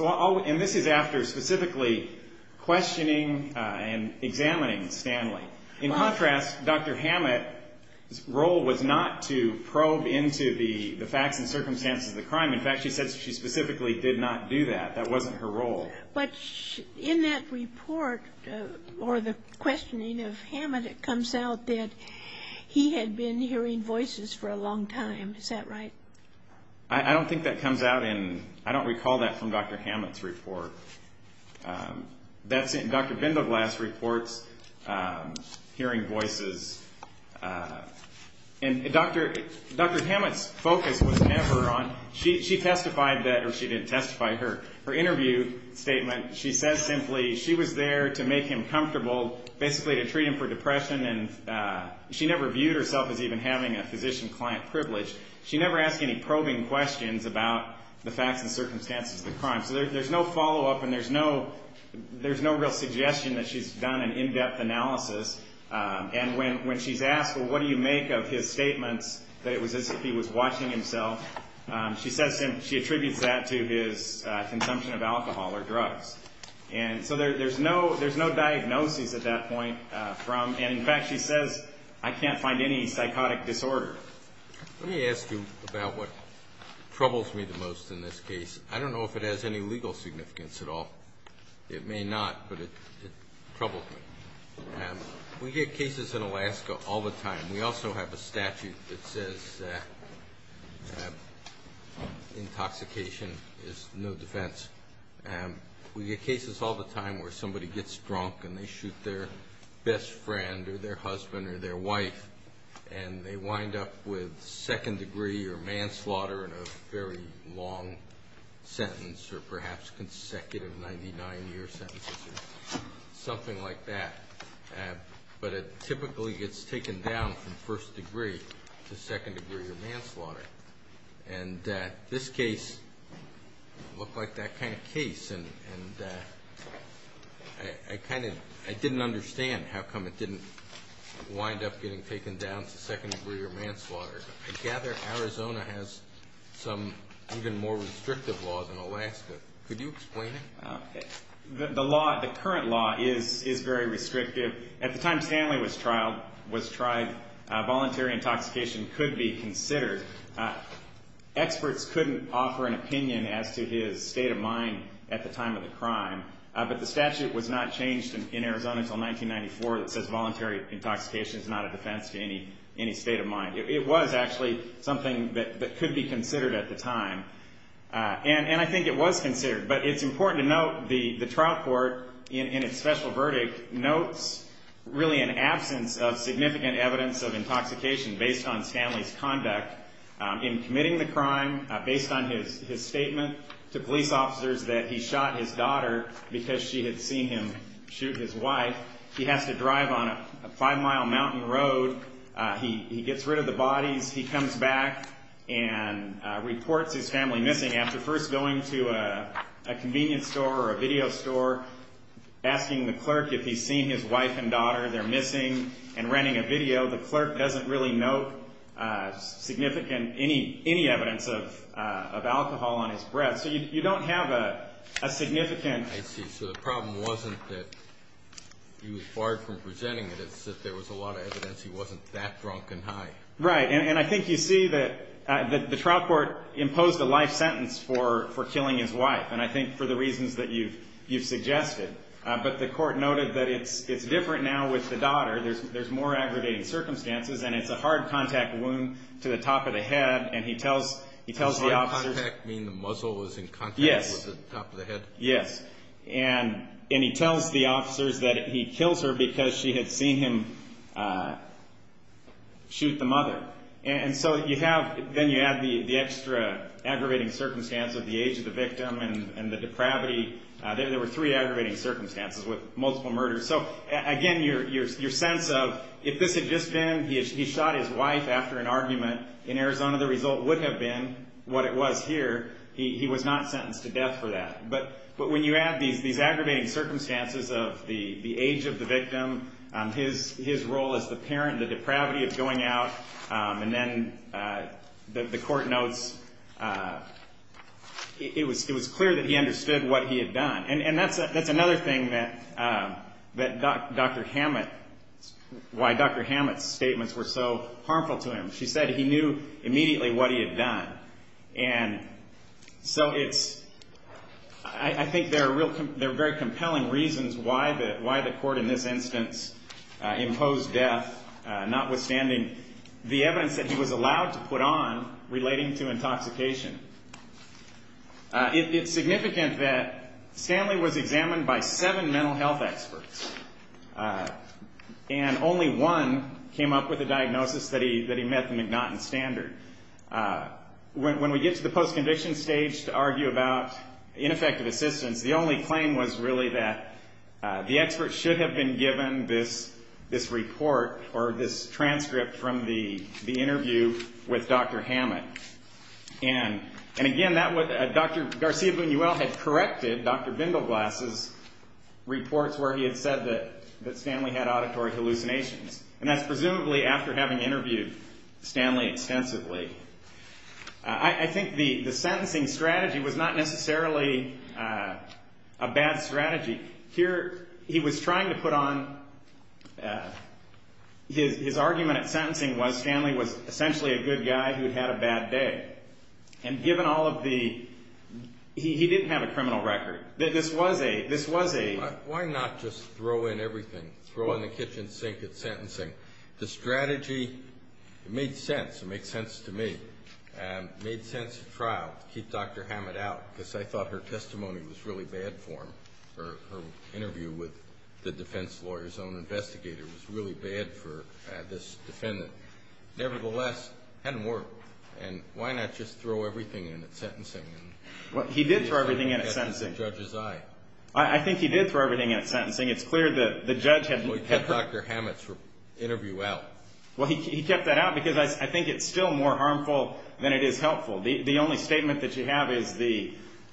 this is after specifically questioning and examining Stanley. In contrast, Dr. Hammett's role was not to probe into the facts and circumstances of the crime. In fact, she said she specifically did not do that. That wasn't her role. But in that report, or the questioning of Hammett, it comes out that he had been hearing voices for a long time. Is that right? I don't think that comes out in... I don't recall that from Dr. Hammett's report. That's in Dr. Bindleglass's report, hearing voices. And Dr. Hammett's focus was never on... She testified that, or she didn't testify, her interview statement, she said simply, she was there to make him comfortable, basically to treat him for depression, and she never viewed herself as even having a physician-client privilege. She never asked any probing questions about the facts and circumstances of the crime. So there's no follow-up, and there's no real suggestion that she's done an in-depth analysis. And when she's asked, well, what do you make of his statement that it was as if he was watching himself, she attributes that to his consumption of alcohol or drugs. And so there's no diagnosis at that point from... And in fact, she says, I can't find any psychotic disorders. Let me ask you about what troubles me the most in this case. I don't know if it has any legal significance at all. It may not, but it troubles me. We get cases in Alaska all the time. We also have a statute that says that intoxication is no defense. We get cases all the time where somebody gets drunk, and they shoot their best friend or their husband or their wife, and they wind up with second degree or manslaughter in a very long sentence or perhaps consecutive 99-year sentences or something like that. But it typically gets taken down from first degree to second degree or manslaughter. And this case looked like that kind of case, and I didn't understand how come it didn't wind up getting taken down to second degree or manslaughter. I gather Arizona has some even more restrictive laws in Alaska. Could you explain it? The current law is very restrictive. At the time Stanley was tried, voluntary intoxication could be considered. Experts couldn't offer an opinion as to his state of mind at the time of the crime, but the statute was not changed in Arizona until 1994 that says voluntary intoxication is not a defense to any state of mind. It was actually something that could be considered at the time, and I think it was considered. But it's important to note the trial court in its special verdict notes really an absence of significant evidence of intoxication based on Stanley's conduct. In committing the crime, based on his statement to police officers that he shot his daughter because she had seen him shoot his wife, he has to drive on a five-mile mountain road. He gets rid of the body. He comes back and reports his family missing. After first going to a convenience store or a video store, asking the clerk if he's seen his wife and daughter, they're missing, and running a video, the clerk doesn't really note any evidence of alcohol on his breath. So you don't have a significant... I see. So the problem wasn't that he was far from presenting it. It's just there was a lot of evidence he wasn't that drunk and high. Right, and I think you see that the trial court imposed a life sentence for killing his wife, and I think for the reasons that you've suggested. But the court noted that it's different now with the daughter. There's more aggravating circumstances, and it's a hard contact wound to the top of the head, and he tells the officers... Hard contact, meaning the muzzle was in contact with the top of the head? Yes, and he tells the officers that he killed her because she had seen him shoot the mother. And so you have... Then you have the extra aggravating circumstances, the age of the victim and the depravity. There were three aggravating circumstances with multiple murders. So again, your sense of, if this had just been he shot his wife after an argument in Arizona, the result would have been what it was here. He was not sentenced to death for that. But when you add the aggravating circumstances of the age of the victim, his role as the parent, the depravity of going out, and then the court notes... It was clear that he understood what he had done. And that's another thing that Dr. Hammett... Why Dr. Hammett's statements were so harmful to him. She said he knew immediately what he had done. And so it's... I think there are very compelling reasons why the court in this instance imposed death, notwithstanding the evidence that he was allowed to put on relating to intoxication. It's significant that Stanley was examined by seven mental health experts. And only one came up with a diagnosis that he met the endotten standard. When we get to the post-condition stage to argue about ineffective assistance, the only claim was really that the expert should have been given this report or this transcript from the interview with Dr. Hammett. And again, that was... Dr. Garcia-Buñuel had corrected Dr. Bingleglass's reports where he had said that Stanley had auditory hallucinations. And that's presumably after having interviewed Stanley extensively. I think the sentencing strategy was not necessarily a bad strategy. Here, he was trying to put on... His argument at sentencing was Stanley was essentially a good guy who had a bad day. And given all of the... He didn't have a criminal record. This was a... Why not just throw in everything? Throw in the kitchen sink at sentencing. The strategy made sense. It made sense to me. It made sense to trial. Keep Dr. Hammett out. Because I thought her testimony was really bad for him. Her interview with the defense lawyer's own investigator was really bad for this defendant. Nevertheless, it hadn't worked. And why not just throw everything in at sentencing? He did throw everything in at sentencing. I think he did throw everything in at sentencing. It's clear the judge had... So he kept Dr. Hammett's interview out. Well, he kept that out because I think it's still more harmful than it is helpful. The only statement that you have is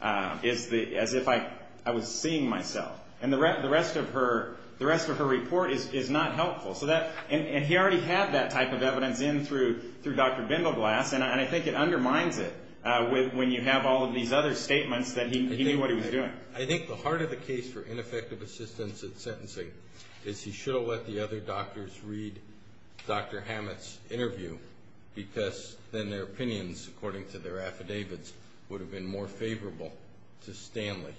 as if I was seeing myself. And the rest of her report is not helpful. And he already had that type of evidence in through Dr. Demoglass. And I think it undermines it when you have all of these other statements that he knew what he was doing. I think the heart of the case for ineffective assistance at sentencing is he should have let the other doctors read Dr. Hammett's interview because then their opinions, according to their affidavits, would have been more favorable to Stanley.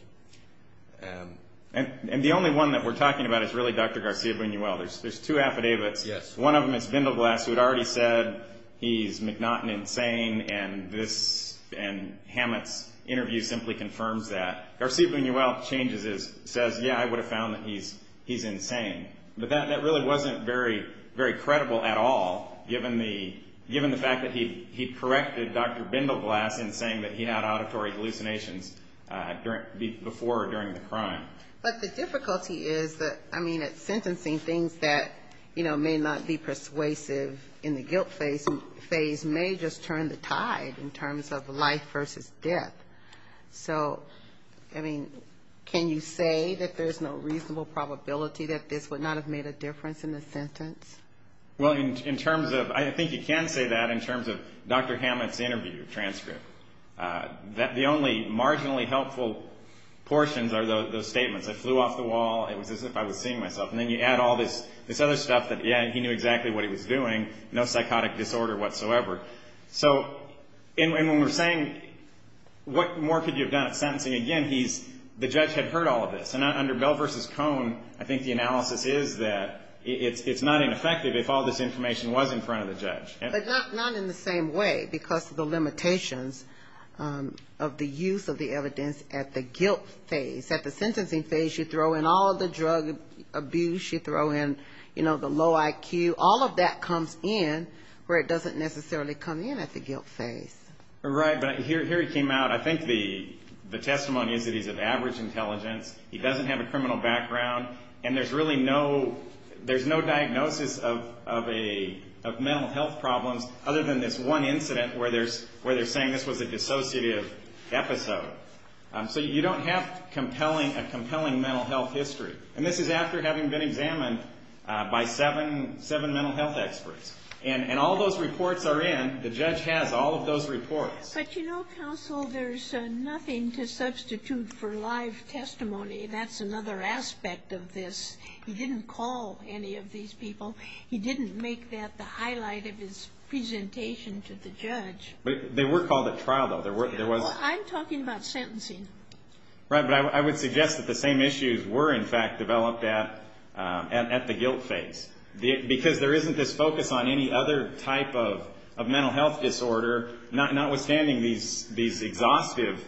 And the only one that we're talking about is really Dr. Garcia-Buñuel. There's two affidavits. One of them is Demoglass who had already said he's McNaughton insane and Hammett's interview simply confirms that. Garcia-Buñuel's change of this says, yeah, I would have found that he's insane. But that really wasn't very credible at all given the fact that he corrected Dr. Demoglass in saying that he had auditory hallucinations before or during the crime. But the difficulty is that, I mean, sentencing things that may not be persuasive in the guilt phase may just turn the tide in terms of life versus death. So, I mean, can you say that there's no reasonable probability that this would not have made a difference in the sentence? Well, I think you can say that in terms of Dr. Hammett's interview transcript. The only marginally helpful portions are those statements. I flew off the wall. This is if I was seeing myself. And then you add all this other stuff that, yeah, he knew exactly what he was doing. No psychotic disorder whatsoever. So, and when we're saying what more could you have done at sentencing, again, the judge had heard all of this. And under Bell versus Cohen, I think the analysis is that it's not ineffective if all this information was in front of the judge. But not in the same way because of the limitations of the use of the evidence because you throw in all the drug abuse. You throw in, you know, the low IQ. All of that comes in where it doesn't necessarily come in at the guilt phase. Right, but here he came out. I think the testimony is that he's of average intelligence. He doesn't have a criminal background. And there's really no, there's no diagnosis of a mental health problem other than this one incident where they're saying this was a dissociative episode. So, you don't have a mental health history. And this is after having been examined by seven mental health experts. And all those reports are in. The judge has all of those reports. But you know, counsel, there's nothing to substitute for live testimony. That's another aspect of this. He didn't call any of these people. He didn't make that the highlight of his presentation to the judge. They were called at trial, though. I'm talking about sentencing. Right, but I would suggest that these issues were, in fact, developed at the guilt phase. Because there isn't this focus on any other type of mental health disorder, notwithstanding these exhaustive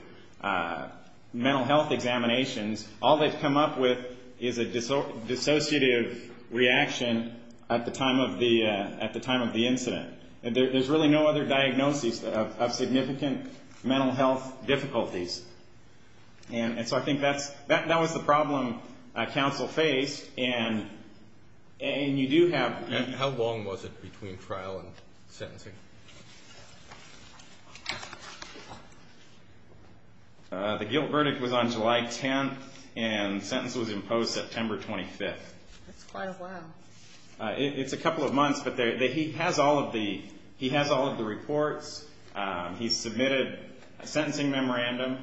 mental health examinations. All they've come up with is a dissociative reaction at the time of the incident. There's really no other diagnosis of significant mental health difficulties. And so, I think that was the problem that counsel faced. And you do have... And how long was it between trial and sentencing? The guilt verdict was on July 10th. And the sentence was imposed September 26th. That's quite a while. It's a couple of months. But he has all of the reports. He submitted a sentencing memorandum.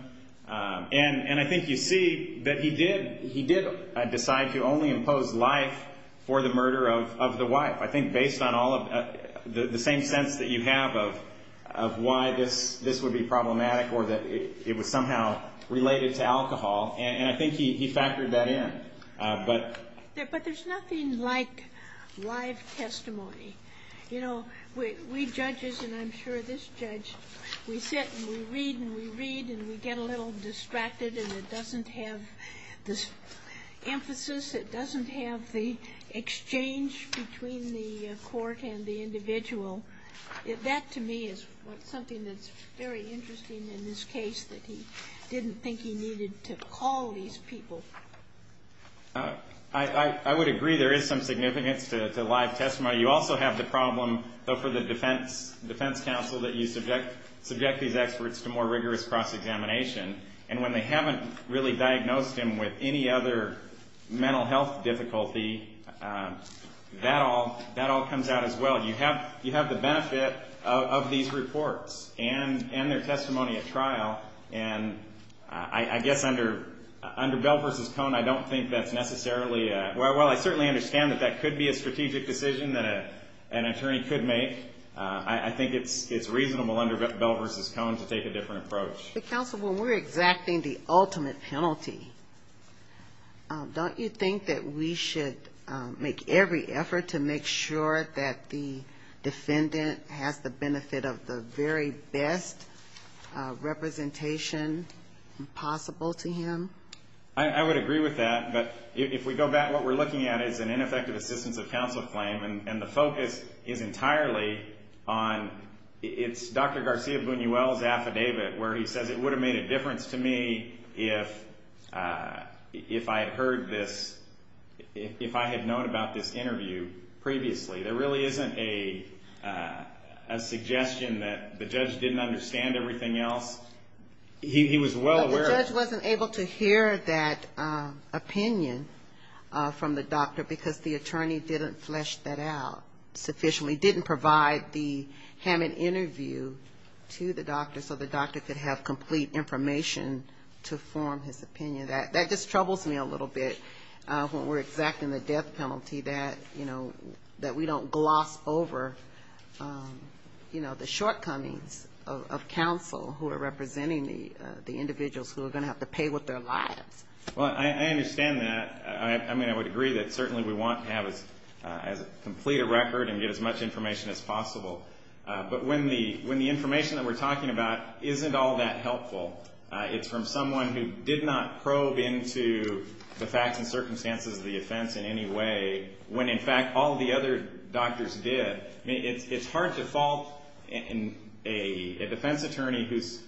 And I think you see that he did decide to only impose life for the murder of the wife. I think based on the same sense that you have of why this would be problematic or that it was somehow related to alcohol. And I think he factored that in. But there's nothing like live testimony. You know, we judges, and I'm sure this judge, we sit and we read and we read and we get a little distracted by this emphasis that doesn't have the exchange between the court and the individual. That to me is something that's very interesting in this case that he didn't think he needed to call these people. I would agree. There is some significance to live testimony. You also have the problem for the defense counsel that you subject these experts to more rigorous cross-examination. And when they haven't really diagnosed him with any other mental health difficulty, that all comes out as well. You have the benefit of these reports and their testimony at trial. And I guess under Bell v. Cohn, I don't think that's necessarily, well, I certainly understand that that could be a strategic decision that an attorney could make. I think it's reasonable under Bell v. Cohn to take a different approach. But counsel, when we're exacting the ultimate penalty, don't you think that we should make every effort to make sure that the defendant has the benefit of the very best representation possible to him? I would agree with that. But if we go back, what we're looking at is an ineffective assistance of counsel claim. And the focus is entirely on Dr. Garcia-Buñuel's affidavit where he said it would have made a difference to me if I had heard this, if I had known about this interview previously. There really isn't a suggestion that the judge didn't understand everything else. He was well aware. The judge wasn't able to hear that opinion because the attorney didn't flesh that out sufficiently, didn't provide the Hammond interview to the doctor so the doctor could have complete information to form his opinion. That just troubles me a little bit when we're exacting the death penalty that we don't gloss over the shortcomings of counsel who are representing the individuals who are going to have to pay with their lives. I understand that. I mean, I would agree that certainly we want to have a complete record and get as much information as possible. But when the information that we're talking about isn't all that helpful, it's from someone who did not probe into the facts and circumstances of the offense in any way when, in fact, all the other doctors did. It's hard to fault a defense attorney whose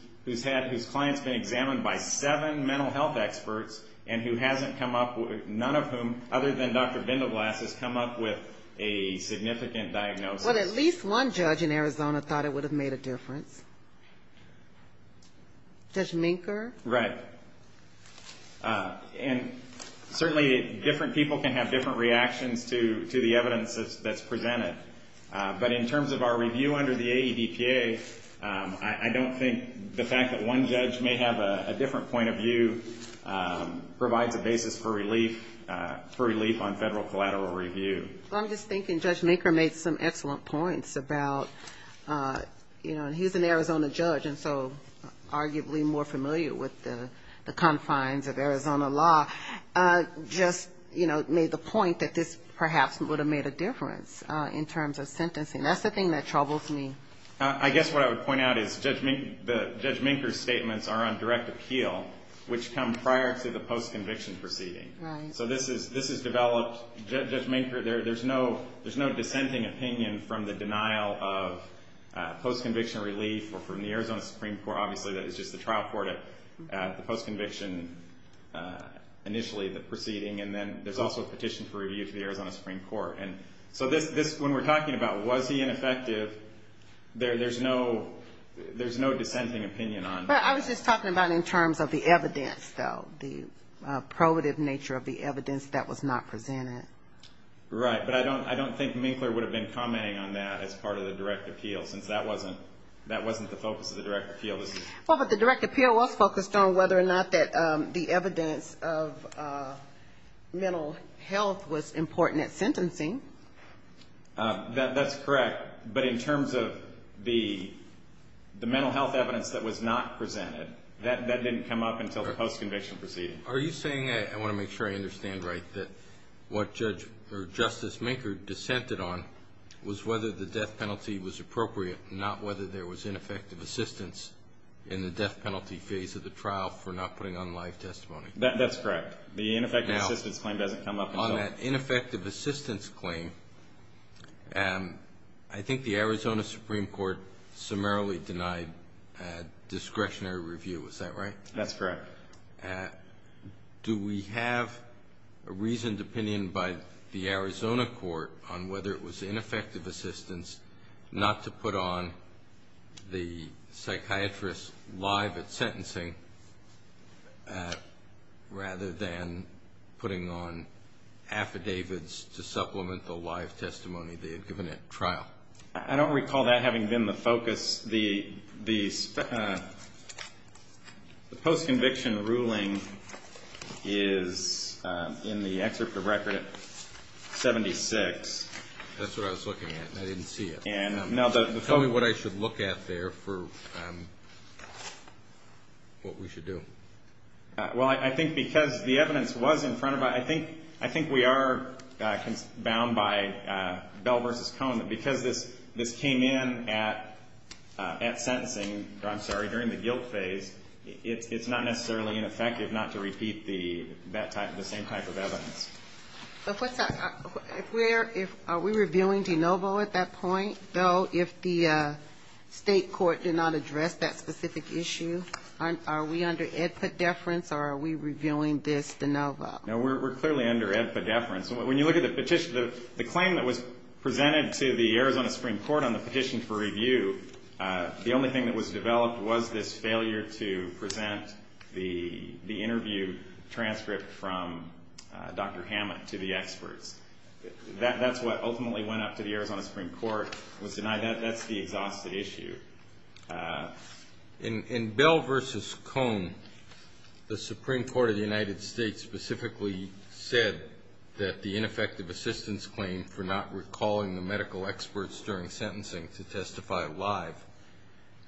client's been examined by seven mental health experts and who hasn't come up with, none of whom other than Dr. Bindelglass has come up with a significant diagnosis. But at least one judge in Arizona thought it would have made a difference. Judge Minker? Right. And certainly different people can have different reactions to the evidence that's presented. But in terms of our review under the AEDPA, I don't think the fact that one judge may have a different point of view provides a basis for relief for relief on federal collateral review. I'm just thinking Judge Minker made some excellent points about, you know, he's an Arizona judge and so arguably more familiar with the confines of Arizona law just, you know, made the point that this perhaps would have made a difference in terms of sentencing. That's the thing that troubles me. I guess what I would point out is Judge Minker's statements are on direct appeal which come prior to the post-conviction proceeding. Right. So this is developed, Judge Minker, there's no dissenting opinion from the denial of post-conviction relief or from the Arizona Supreme Court, obviously that is just the trial court at the post-conviction initially, the proceeding, and then there's also a petition for review to the Arizona Supreme Court. So when we're talking about was he ineffective, there's no dissenting opinion on that. But I was just talking about in terms of the evidence. So the probative nature of the evidence that was not presented. Right. But I don't think Minker would have been commenting on that as part of the direct appeal since that wasn't the focus of the direct appeal. Well, but the direct appeal was focused on whether or not that the evidence of mental health was important at sentencing. That's correct. But in terms of the mental health evidence that was not presented, that didn't come up until the post-conviction proceeding. Are you saying, I want to make sure I understand right, that what Justice Minker dissented on was whether the death penalty was appropriate, not whether there was ineffective assistance in the death penalty phase of the trial for not putting on live testimony? That's correct. The ineffective assistance claim doesn't come up. On that ineffective assistance claim, I think the Arizona Supreme Court summarily denied discretionary review. Is that right? That's correct. Do we have a reasoned opinion by the Arizona Court on whether it was ineffective assistance not to put on the psychiatrist live at sentencing rather than putting on affidavits to supplement the live testimony they had given at trial? I don't recall that having been the focus. The post-conviction ruling is in the excerpt of record 76. That's what I was looking at. I didn't see it. Tell me what I should look at there for what we should do. I think because the evidence was in front of us, I think we are bound by Bell v. Coleman because this came in at sentencing during the guilt phase. It's not necessarily ineffective not to repeat the same type of evidence. Are we revealing DeNovo at that point? If the state court did not address that specific issue, are we under deference or are we revealing this DeNovo? We are clearly under deference. The claim presented to the Arizona Supreme Court was this failure to present the interview transcript from Dr. Hammond to the expert. That's what ultimately went up in the Arizona Supreme Court. That's the issue. In Bell v. Coleman, the Supreme Court specifically said that the ineffective assistance claim for not recalling the medical experts during sentencing to testify live,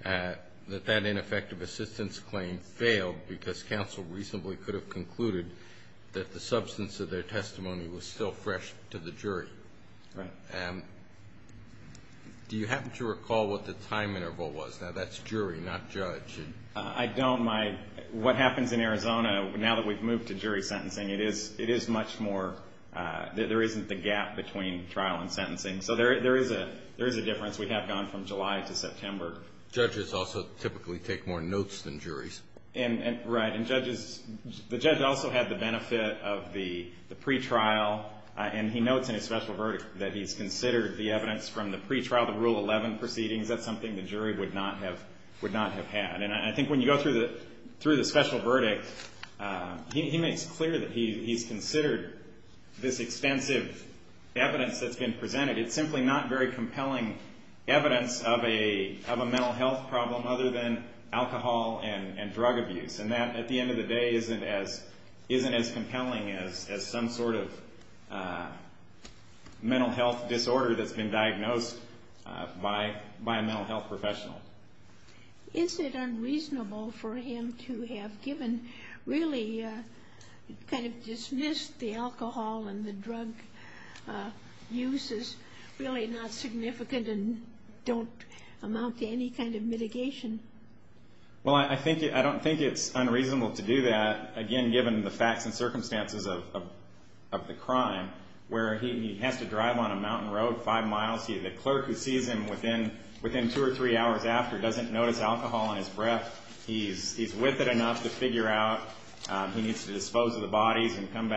that that ineffective assistance claim failed because counsel recently could have concluded that the substance of their testimony was still fresh to the jury. Do you happen to recall what the time interval was? That's jury, not judge. I don't recall. What happens in Arizona now that we've moved to sentencing, there isn't the gap between trial and sentencing. There is a difference we have gone from July to September. Judges also typically take more notes than juries. The judge also had the benefit of the pre-trial trial. He notes in his special verdict he considered the pre-trial proceedings something the jury would not have had. When you go through the special verdict, he makes clear he considered this extensive evidence presented is not compelling evidence of a mental health problem other than alcohol and drug abuse. That, at the end of the day, isn't as compelling as some sort of mental health disorder that's been diagnosed by a mental health professional. Is it unreasonable for him to have given really kind of dismissed the alcohol and the drug uses really not significant and don't amount to any kind of mitigation? Well, I don't think it's unreasonable to do that, again, given the facts and circumstances of the crime, where he'd have to drive on a mountain road five miles. The clerk who sees him within two or three hours after doesn't notice alcohol in his breath. He's whippet enough to figure out he needs to go to the convenience store.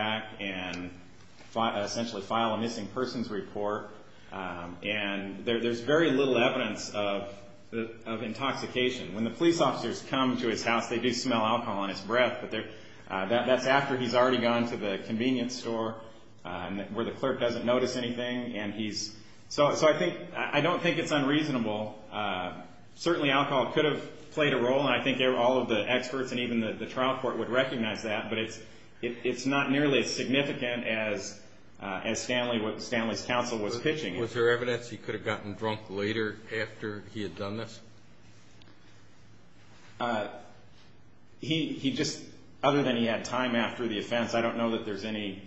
I don't think it's unreasonable. Certainly alcohol could have played a role, and I think all of the experts and the trial court would recognize that, but it's not nearly as significant as Stanley's counsel was pitching. Was there evidence he could have gotten drunk later after he had done this? He just other than he had time after the offense, I don't know that there's any,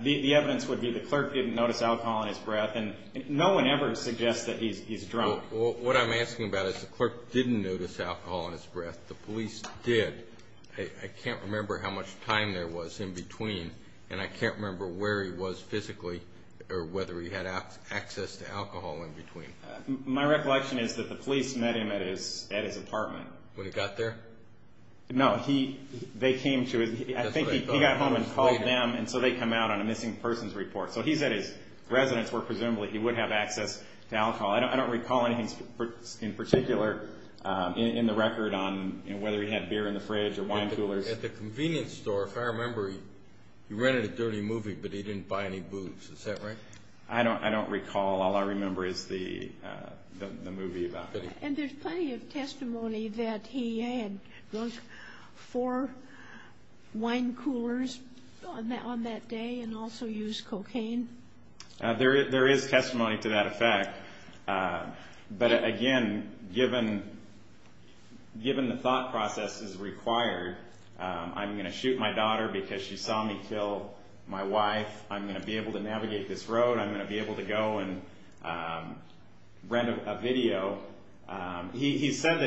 the evidence would be the clerk didn't notice alcohol in his breath, and no one ever suggests that he's drunk. What I'm asking about is the clerk didn't notice alcohol in his breath. The police did. I can't remember how much time there was in between, and I can't remember where he was physically or whether he had access to alcohol in between. My recollection is that the police met him at his apartment. When he got there? No. He got home and called them and they came out on a missing end. He didn't have a beer in the fridge. I don't recall. All I remember is the movie. There's plenty of testimony that he had those four wine coolers on that day and also used cocaine. There is testimony to that effect. But, again, given the thought process that he had, I'm going to shoot my daughter because she saw me kill my wife. I'm going to be able to navigate this road. I'm going to be able to go and rent a video. He says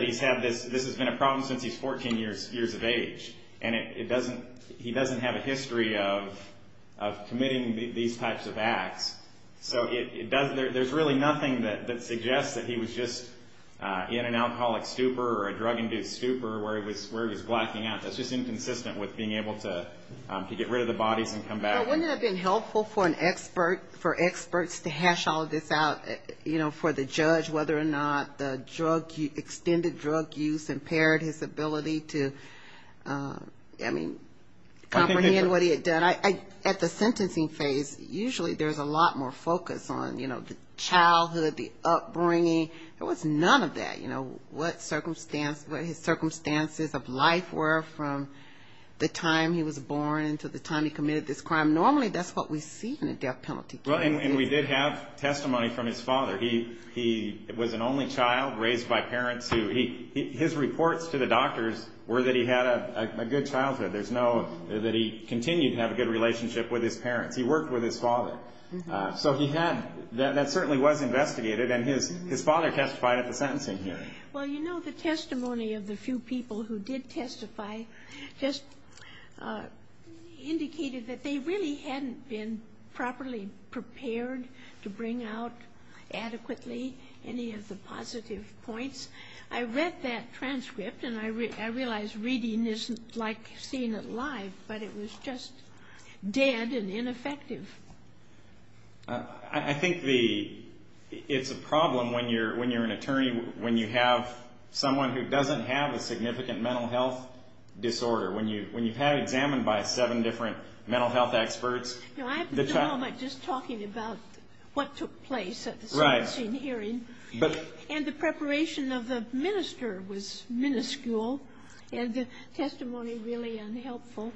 this has been a problem since he was 14 years of age. He doesn't have a history of committing these types of crimes. There's really nothing that suggests that he was just in an alcoholic stupor or a drug induced stupor. That's inconsistent with being able to get rid of the body. Wouldn't it have been helpful for experts to hash this out for the judge whether or not the drug use impaired his ability to comprehend what he had done. At the sentencing phase, usually there's a lot more focus on childhood, upbringing. There was none of that. What his circumstances of life were from the time he was born to the time he committed this crime. Normally that's what we see. We did have testimony from his father. He was an only child raised by parents. His reports to the doctors were that he had a good childhood. He worked with his father. That certainly was investigated and his father testified at the sentencing hearing. The testimony of the few people who did testify just indicated that they really hadn't been properly prepared to bring out adequately any of the positive points. I read that transcript and I realized reading isn't like seeing it live, but it was just dead and ineffective. I think the problem when you're an attorney, when you have someone who doesn't have a significant mental health disorder, when you have it examined by seven different experts. I'm talking about what took place at the sentencing hearing. The preparation of the minister was minuscule and the testimony really unhelpful.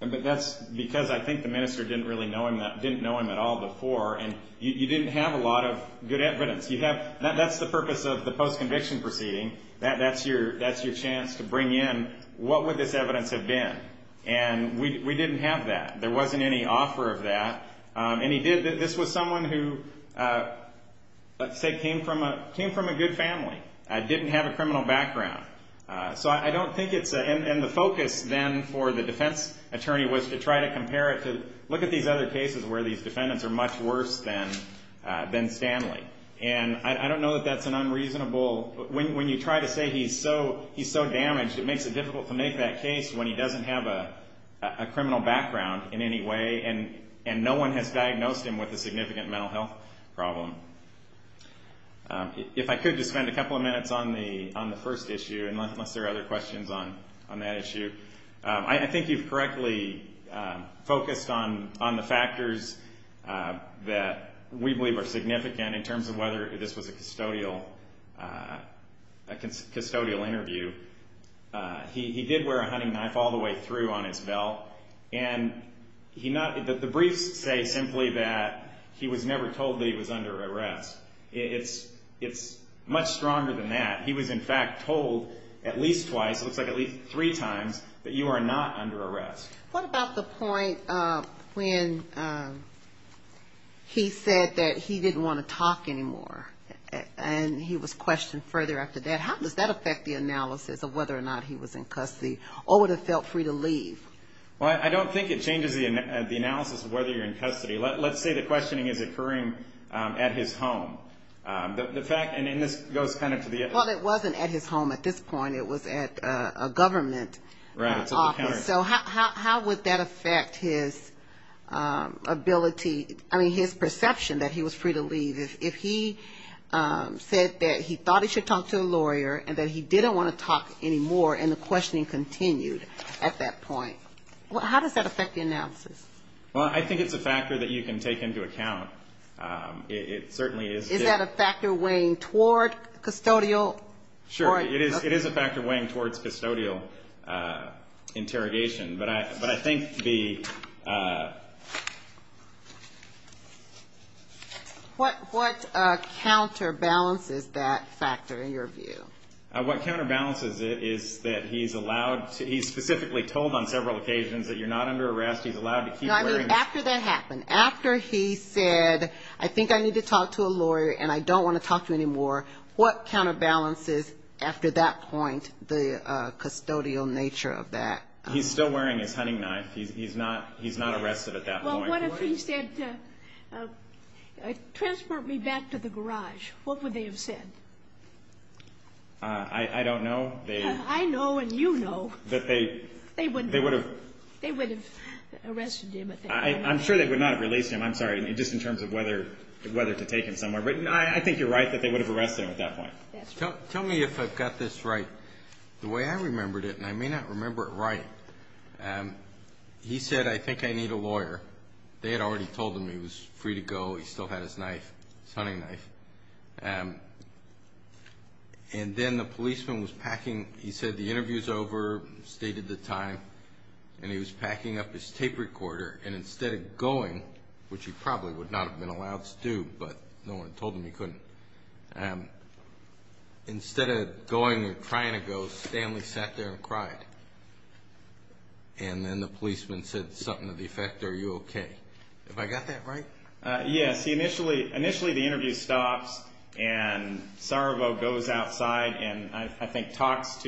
That's because I think the minister didn't know him at all before. You didn't have a lot of good evidence. That's the purpose of the post conviction proceeding. That's your chance to bring in what would this evidence have been. We didn't have that. There wasn't any offer of that. This was someone who came from a good family, didn't have a criminal background. The focus for the defense attorney was to look at the other cases where the defendants are much worse than Stanley. I don't know if that's unreasonable. When you say he's so damaged it makes it difficult to make that case when he doesn't have a criminal background and no one has diagnosed him with a criminal background. I think he's correctly focused on the factors that we believe are significant in terms of whether this was a custodial interview. He did wear a hunting mask all the way through on his belt. The brief says he was never told he was under arrest. It's much stronger than that. He was told at least three times that you are not under arrest. What about the point when he said he didn't want to talk anymore? How does that affect the analysis of whether or not he was in custody or would have felt free to leave? I don't think it changes the analysis. Let's say the questioning is occurring at his home. It wasn't at his home at this point. It was at a government office. How would that affect his ability or his perception that he was free to leave? If he said he thought he should talk to a lawyer and he didn't want to talk anymore and the questioning continued at that point, how does that affect the analysis? I think it's a factor you can take into account. Is that a factor weighing towards custodial interrogation? What counter balances that factor in your view? What counter balances it is that he specifically told on several occasions you're not under arrest. After he said I think I need to talk to a lawyer and I don't want to talk to him anymore, what counter balances the custodial nature of that? He's still wearing his uniform. He think I don't want to talk to him anymore. I don't want to talk to him anymore. I don't want to talk to him anymore. He was packing his tape recorder and instead of going he sat and cried. The policeman said something to the effector. Are you okay? Initially the interview stopped and he went outside and talked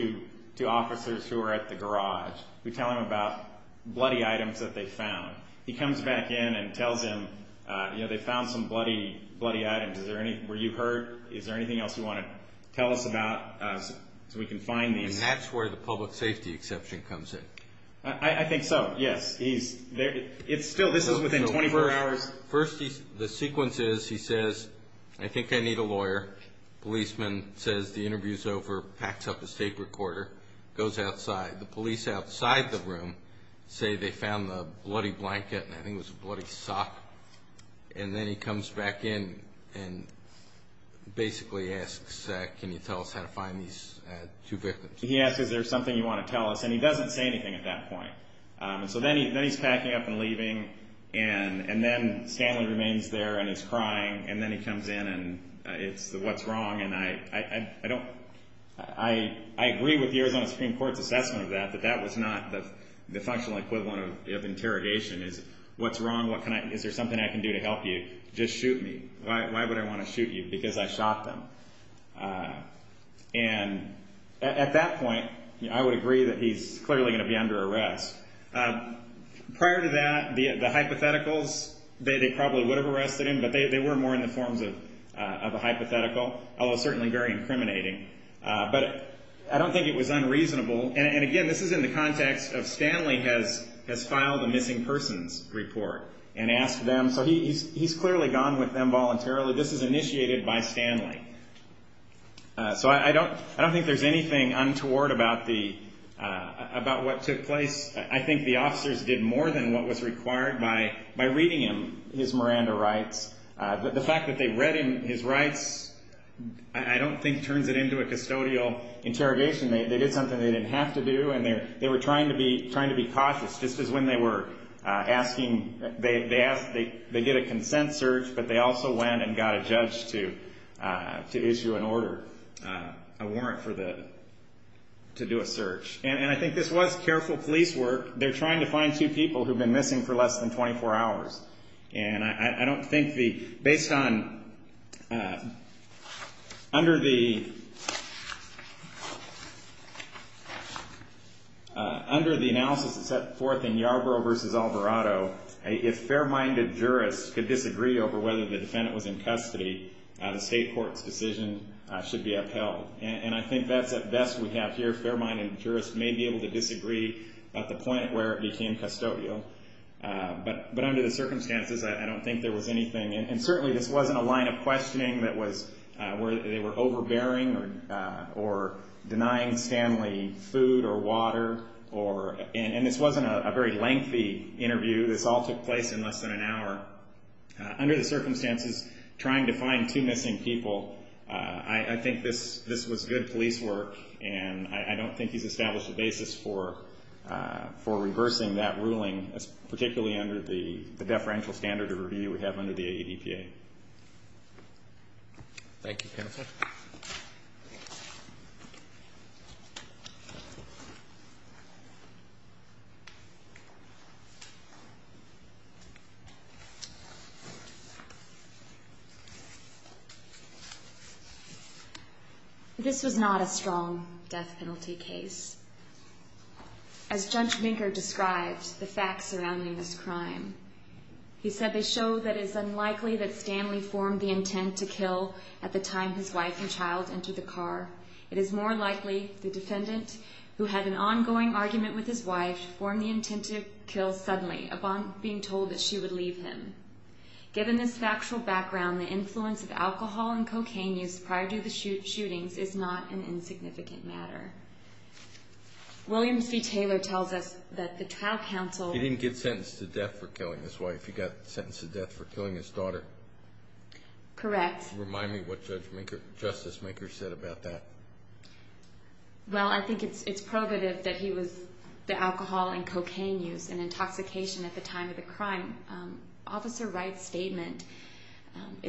to officers at the garage. He comes back in and tells them they found some bloody items. Is there anything else you want to tell us about? That's where the public safety exception policy comes in. I think so. This is within 24 hours. The sequence is he says I think I need a lawyer. The police outside the room say they found a bloody blanket and then he comes back in and basically asks can you tell us how to find the blanket. He doesn't say anything at that point. Then he's packing up and leaving and then Stanley remains there and is crying and then he comes in and what's wrong. I agree with the assessment of that but that was not the functional equivalent of interrogation. The question is what's wrong. Is there something I can do to help you. Just shoot me. Why would I want to shoot you because I shot them. At that point I would agree he's clearly under arrest. Prior to that the hypotheticals they probably would have arrested him but they didn't. He's gone with them voluntarily. This is initiated by family. I don't think there's anything untoward about what took place. I think the officers did more than what was required by reading his Miranda rights. The fact that they read his rights I don't think turns it into a custodial interrogation. They did something they didn't have to do and they were trying to be cautious. This is when they did a consent search but they also went and got a judge to issue a warrant to do a search. I think this was careful police work. They're trying to find people missing for less than 24 hours. I don't think based on under the analysis that's set forth in Yarbrough versus Alvarado, if fair minded jurists could disagree whether the defendant was in custody the state court decision should be upheld. I think that's what best we have here. Fair minded jurists may be able to do that. Under the circumstances I don't think there was anything and certainly this wasn't a line of questioning that they were overbearing or denying family food or water and this wasn't a very lengthy interview. This all took place in less than an hour. Under the circumstances trying to find two missing people, I think this was good police work and I don't think you established a basis for reversing that ruling particularly under the deferential standard under the ADTA. Thank you counsel. This was not a strong death penalty case. As Judge Vinker described the facts surrounding that it's unlikely that Stanley formed the intent to kill at the time his wife died. He said it's unlikely that Stanley formed the intent to the time his wife died. It's more likely the defendant who had an ongoing argument with his wife formed the intent to kill suddenly. Given this factual background the influence of alcohol and cocaine use prior to the shooting is not an undeniable fact. It's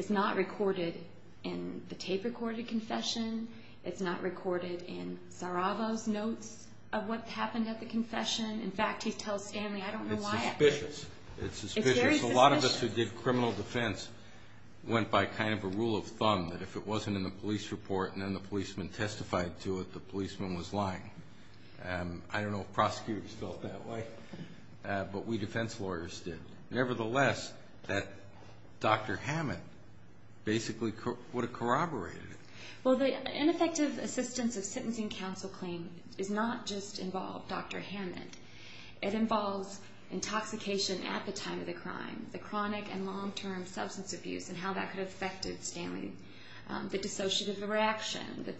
not recorded in the tape recorded confession. It's not recorded in Sarabo's notes of what happened at the confession. In fact, he tells Stanley I don't know why. It's suspicious. A lot of us who did criminal defense went by kind of a rule of thumb that if it wasn't in the police report then the policeman testified to it the policeman was lying. I don't know if prosecutors feel that way but we defense lawyers did. Nevertheless, that Dr. Hammond basically would have corroborated it. Well, the ineffective assistance of sentencing counsel claims did not just involve Dr. Hammond. It involved intoxication at the time of the crime, the chronic and long-term substance abuse and how that could affect Stanley. The dissociative reaction, the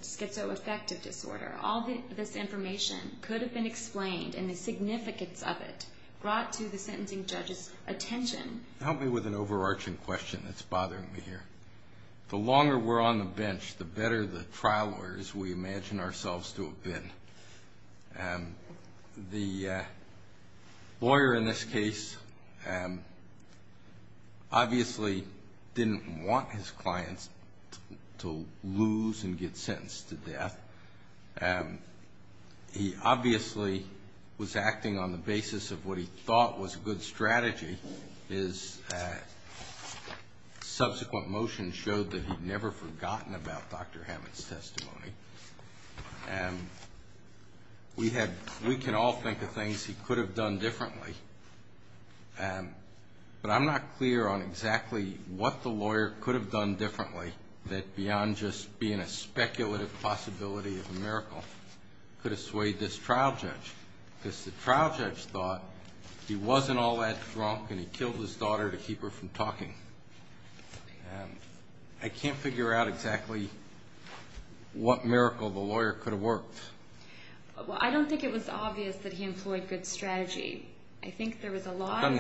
effect of disorder, all this information could have been explained and the significance of it brought to the court Dr. Hammond was to have been. The lawyer in this case obviously didn't want his clients to lose and get sentenced to death. He obviously was acting on the basis of what he thought was a good strategy. His subsequent motions showed that he had never forgotten about Dr. Hammond's testimony. We can all think of things he could have done differently, but I'm not clear on exactly what the lawyer could have done differently that beyond just being a speculative possibility of a miracle could have swayed this trial judge. The trial judge thought he wasn't all that important. I don't think it was obvious that he employed good strategy. I think there was a lot of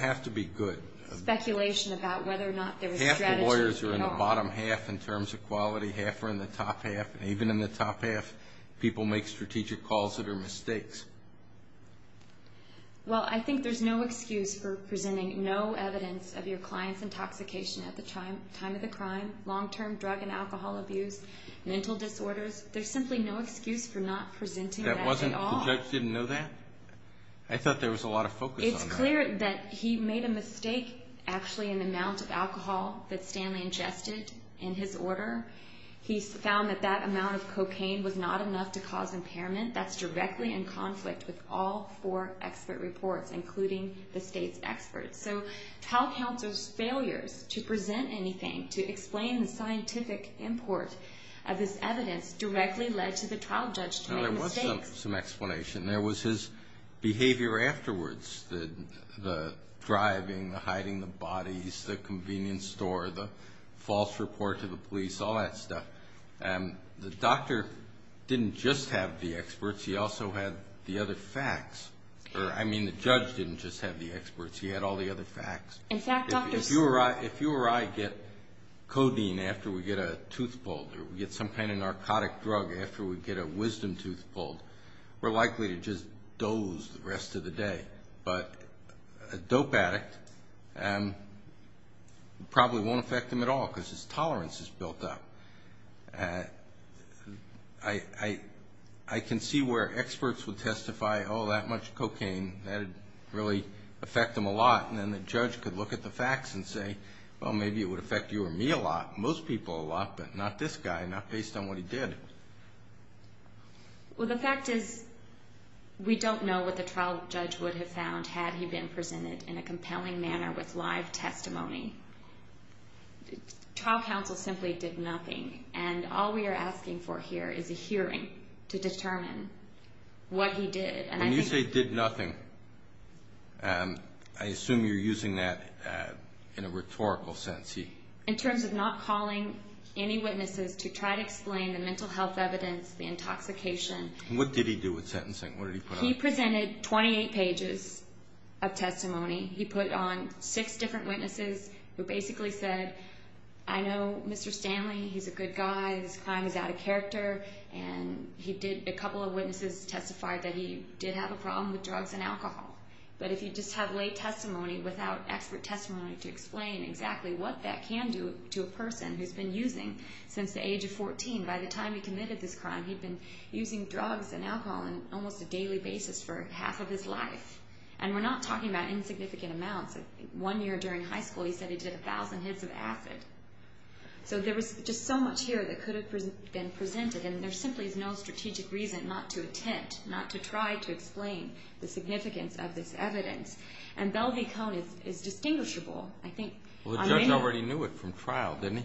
speculation about whether or not there was strategy. Half the lawyers are in the bottom half in terms of quality, half are in the top half, and even in the top half people make strategic calls that are mistakes. Well, I think there's no excuse for presenting no evidence of your client's intoxication at the time of the crime, long-term drug and alcohol abuse, mental disorders. There's simply no excuse for not presenting that at all. The judge didn't know that? I thought there was a lot of focus on that. But he made a mistake actually in the amount of alcohol that Stanley ingested in his order. He found that that amount of cocaine was not enough to cause impairment. That's directly in conflict with all four expert reports including the state's experts. So how count those failures to present anything, to explain the scientific import of this evidence directly led to the trial judge's mistake? There was some explanation. There was his behavior afterwards, the driving, the hiding, the bodies, the convenience store, the false report to the police, all that stuff. The doctor didn't just have the experts. He also had the other facts. I mean, the judge didn't just have the experts. He had all the other facts. If you or I get codeine after we get a tooth pulled or get some kind of narcotic drug after we get a wisdom tooth pulled, we're likely to just doze the rest of the day. But a dope addict probably won't affect him at all because his tolerance is built up. I can see where experts would testify, oh, that much cocaine, that would really affect him a lot. And then the judge could look at the facts and say, oh, maybe it would affect you or me a lot, most people a lot, but not this guy, not based on what he did. Well, the fact is we don't know what the trial judge would have found had he been presented in a compelling manner with live testimony. Trial counsel simply did nothing and all we are asking for here is a hearing to determine what he did. When you say did nothing, I assume you're using that in a rhetorical sense. In terms of not calling any witnesses to try to explain the mental health evidence, the intoxication. And what did he do with sentencing? He presented 28 pages of testimony. He put on six different witnesses who basically said, I know Mr. Stanley, he's a good guy, he's climbed out of character and he did a couple of witnesses testify that he did not have a problem with drugs and alcohol. But if you just have lay testimony without expert testimony to explain exactly what that can do to a person who's been using since the age of 14, by the time he committed this crime, he'd been using drugs and alcohol on almost a daily basis for half of his life. And we're not talking about insignificant evidence. evidence that has a significant reason not to attempt, not to try to explain the significance of this evidence. And Bell v. Cohn is distinguishable. The judge already knew it from trial, didn't he?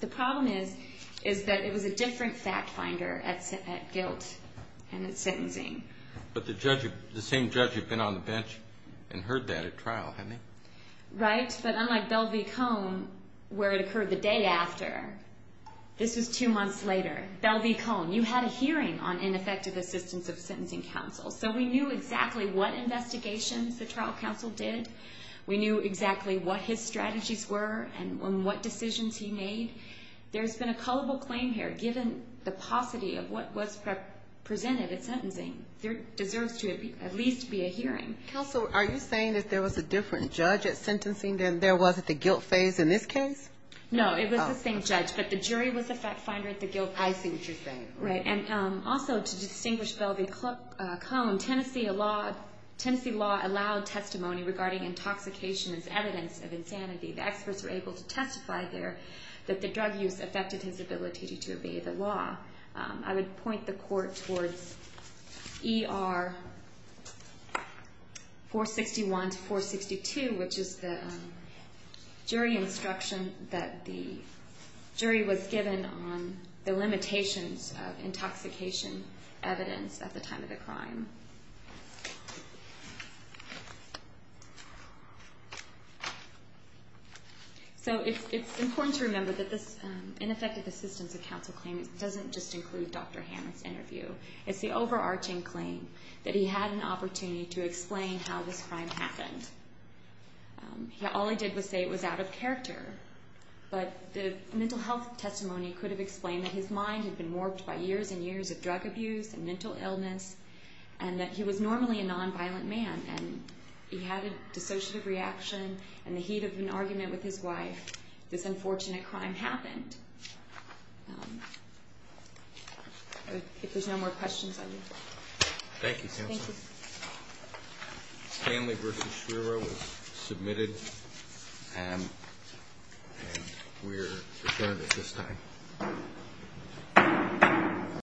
The problem is that it was a different fact finder at guilt in his case. He was a different judge at sentencing than there was at the guilt phase in this case. No, it but the jury was a fact finder at the guilt high sentencing phase. The jury was a fact finder at the guilt high sentencing phase. And also to distinguish Bell v. Cohn, Tennessee law allowed testimony regarding intoxication as evidence of insanity. The experts were able to testify there that the drug use affected his ability to obey the law. I would point the court towards ER 461, 462, which is the jury instruction that the jury was given on the limitations of intoxication evidence at the time of the crime. So it's important to remember that this ineffective assistance of counsel claim doesn't just include Dr. Cohn's testimony. includes Dr. Bell's testimony that he had an opportunity to explain how this crime happened. All I did was say it was out of character. But the mental health testimony could have explained that his mind had been warped by years and years of drug abuse and mental illness and that he was normally a non-violent man and he had a dissociative reaction and the heat of an argument with his wife, this unfortunate crime happened. If there's no more questions, please. Thank you, counsel. Family requested to hearing is the floor. Dr. Dr. Bell's testimony that he had an opportunity to explain how this crime happened. All I did was say it was out of character. But the mental group of people who had no choice but to sit down and speak. They all have an opportunity to speak. And they